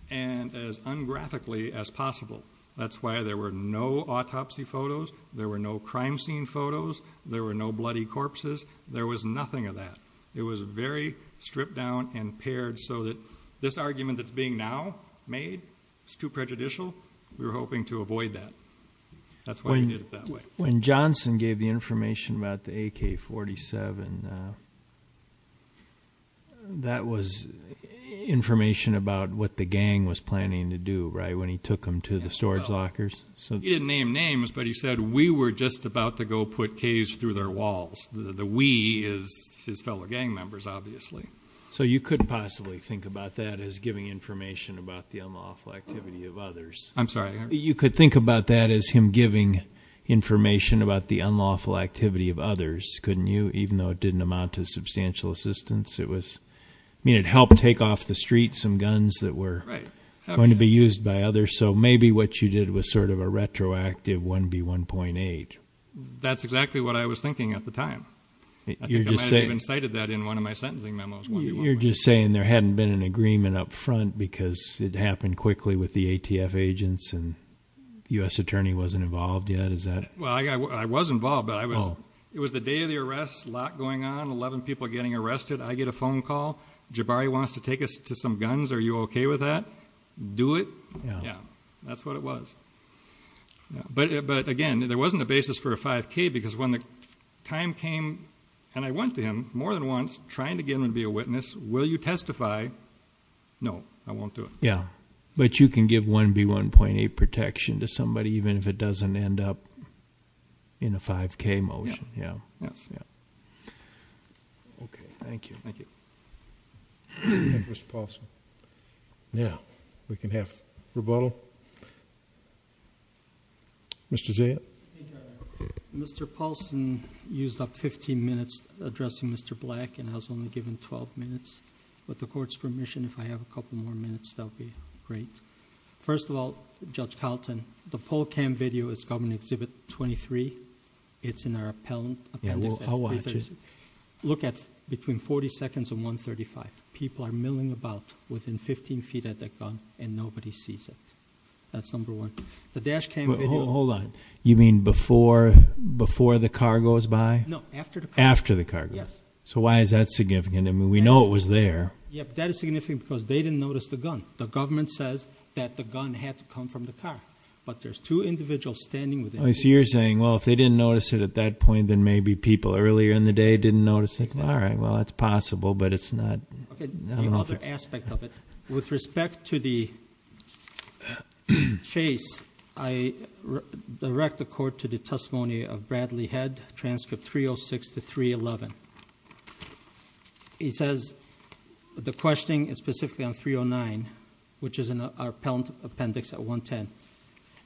and as ungraphically as possible. That's why there were no autopsy photos, there were no crime scene photos, there were no bloody corpses. There was nothing of that. It was very stripped down and paired so that this argument that's being now made is too prejudicial. We were hoping to avoid that. That's why we did it that way. When Johnson gave the information about the AK-47, that was information about what the gang was planning to do, right, when he took them to the storage lockers? He didn't name names, but he said, we were just about to go put K's through their walls. The we is his fellow gang members, obviously. So you could possibly think about that as giving information about the unlawful activity of others. I'm sorry? You could think about that as him giving information about the unlawful activity of others, couldn't you, even though it didn't amount to substantial assistance? I mean, it helped take off the streets some guns that were going to be used by others. So maybe what you did was sort of a retroactive 1B1.8. That's exactly what I was thinking at the time. I think I might have even cited that in one of my sentencing memos. You're just saying there hadn't been an agreement up front because it happened quickly with the ATF agents and the U.S. attorney wasn't involved yet, is that...? Well, I was involved, but it was the day of the arrest, a lot going on, 11 people getting arrested, I get a phone call, Jabari wants to take us to some guns, are you okay with that? Do it? Yeah, that's what it was. But again, there wasn't a basis for a 5K because when the time came, and I went to him more than once, trying to get him to be a witness, will you testify? No, I won't do it. Yeah, but you can give 1B1.8 protection to somebody even if it doesn't end up in a 5K motion. Okay, thank you. Thank you. Mr. Paulson. Now we can have rebuttal. Mr. Zahid. Mr. Paulson used up 15 minutes addressing Mr. Black and I was only given 12 minutes. With the court's permission, if I have a couple more minutes, that would be great. First of all, Judge Carlton, the poll cam video is Government Exhibit 23. It's in our appendix. I'll watch it. Look at between 40 seconds and 1.35. People are milling about within 15 feet at that gun and nobody sees it. That's number one. Hold on, you mean before the car goes by? No, after the car goes by. So why is that significant? I mean, we know it was there. That is significant because they didn't notice the gun. The government says that the gun had to come from the car, but there's two individuals standing with it. So you're saying, well, if they didn't notice it at that point, then maybe people earlier in the day didn't notice it. All right, well, that's possible, but it's not obvious. With respect to the chase, I direct the court to the testimony of Bradley Head, transcript 306 to 311. He says the questioning is specifically on 309, which is in our appendix at 110.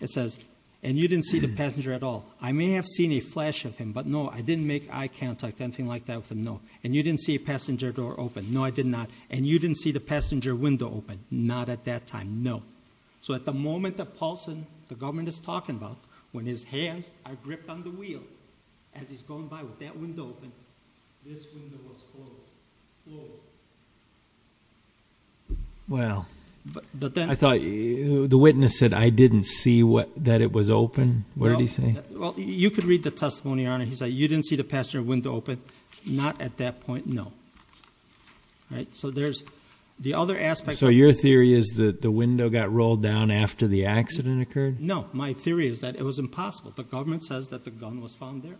It says, and you didn't see the passenger at all. I may have seen a flash of him, but no, I didn't make eye contact, anything like that with him, no. And you didn't see a passenger door open. No, I did not. And you didn't see the passenger window open. Not at that time, no. So at the moment that Paulson, the government is talking about, when his hands are gripped on the wheel, as he's going by with that window open, this window was closed. Closed. Well, I thought the witness said, I didn't see that it was open. What did he say? Well, you could read the testimony, Your Honor. He said, you didn't see the passenger window open. Not at that point, no. So there's the other aspect. So your theory is that the window got rolled down after the accident occurred? No. My theory is that it was impossible. The government says that the gun was found there.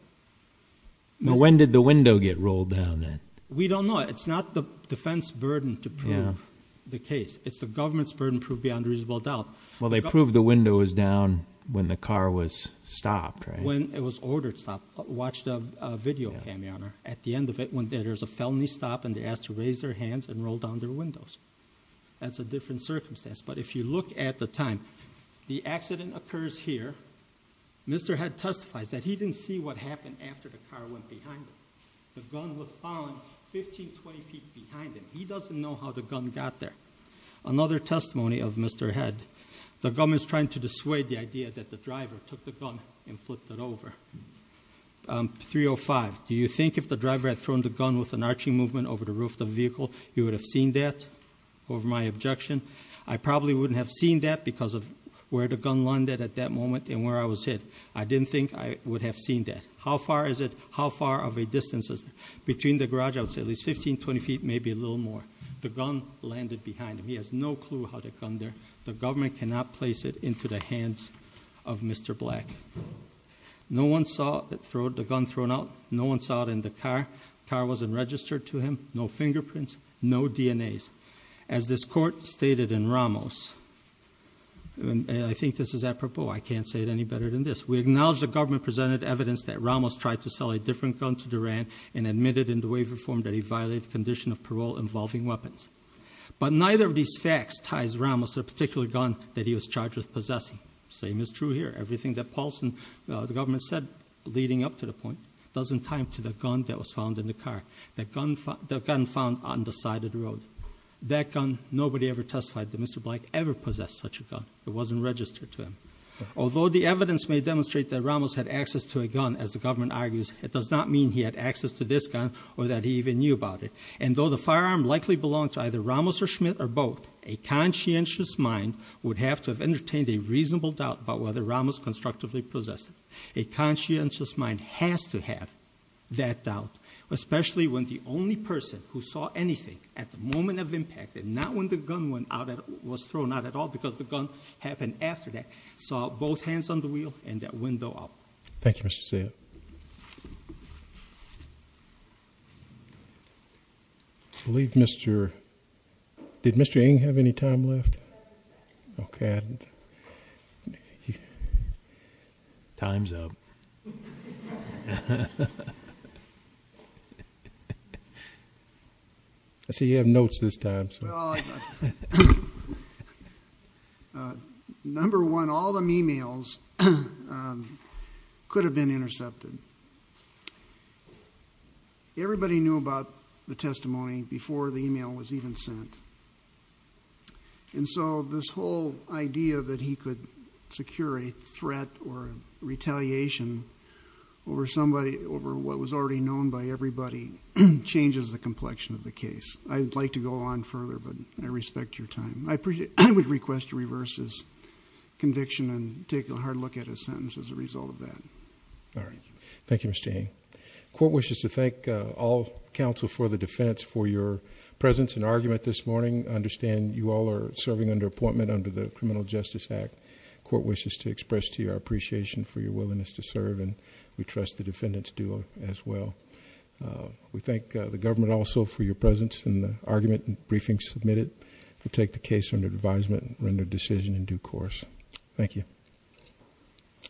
When did the window get rolled down, then? We don't know. It's not the defense burden to prove the case. It's the government's burden to prove beyond reasonable doubt. Well, they proved the window was down when the car was stopped, right? When it was ordered stopped. Watch the video, Your Honor. At the end of it, there's a felony stop, and they're asked to raise their hands and roll down their windows. That's a different circumstance. But if you look at the time, the accident occurs here. Mr. Head testifies that he didn't see what happened after the car went behind him. The gun was found 15, 20 feet behind him. He doesn't know how the gun got there. Another testimony of Mr. Head. The government is trying to dissuade the idea that the driver took the gun and flipped it over. 305, do you think if the driver had thrown the gun with an arching movement over the roof of the vehicle, he would have seen that over my objection? I probably wouldn't have seen that because of where the gun landed at that moment and where I was hit. I didn't think I would have seen that. How far is it? How far of a distance is it? Between the garage, I would say at least 15, 20 feet, maybe a little more. The gun landed behind him. He has no clue how the gun there. The government cannot place it into the hands of Mr. Black. No one saw the gun thrown out. No one saw it in the car. The car wasn't registered to him. No fingerprints. No DNAs. As this court stated in Ramos, and I think this is apropos. I can't say it any better than this. We acknowledge the government presented evidence that Ramos tried to sell a different gun to Duran and admitted in the waiver form that he violated the condition of parole involving weapons. But neither of these facts ties Ramos to the particular gun that he was charged with possessing. Same is true here. Everything that Paulson, the government said leading up to the point, doesn't tie him to the gun that was found in the car. The gun found on the side of the road. That gun, nobody ever testified that Mr. Black ever possessed such a gun. It wasn't registered to him. Although the evidence may demonstrate that Ramos had access to a gun, as the government argues, it does not mean he had access to this gun or that he even knew about it. And though the firearm likely belonged to either Ramos or Schmidt or both, a conscientious mind would have to have entertained a reasonable doubt about whether Ramos constructively possessed it. A conscientious mind has to have that doubt, especially when the only person who saw anything at the moment of impact, and not when the gun was thrown out at all because the gun happened after that, saw both hands on the wheel and that window open. Thank you, Mr. Ceja. Thank you. I believe Mr. Did Mr. Ng have any time left? Okay. Time's up. I see you have notes this time. Well, number one, all the e-mails could have been intercepted. Everybody knew about the testimony before the e-mail was even sent. And so this whole idea that he could secure a threat or retaliation over somebody, over what was already known by everybody, changes the complexion of the case. I'd like to go on further, but I respect your time. I would request to reverse his conviction and take a hard look at his sentence as a result of that. All right. Thank you, Mr. Ng. Court wishes to thank all counsel for the defense for your presence and argument this morning. I understand you all are serving under appointment under the Criminal Justice Act. Court wishes to express to you our appreciation for your willingness to serve, and we trust the defendants do as well. We thank the government also for your presence in the argument and briefing submitted. We take the case under advisement and render decision in due course. Thank you.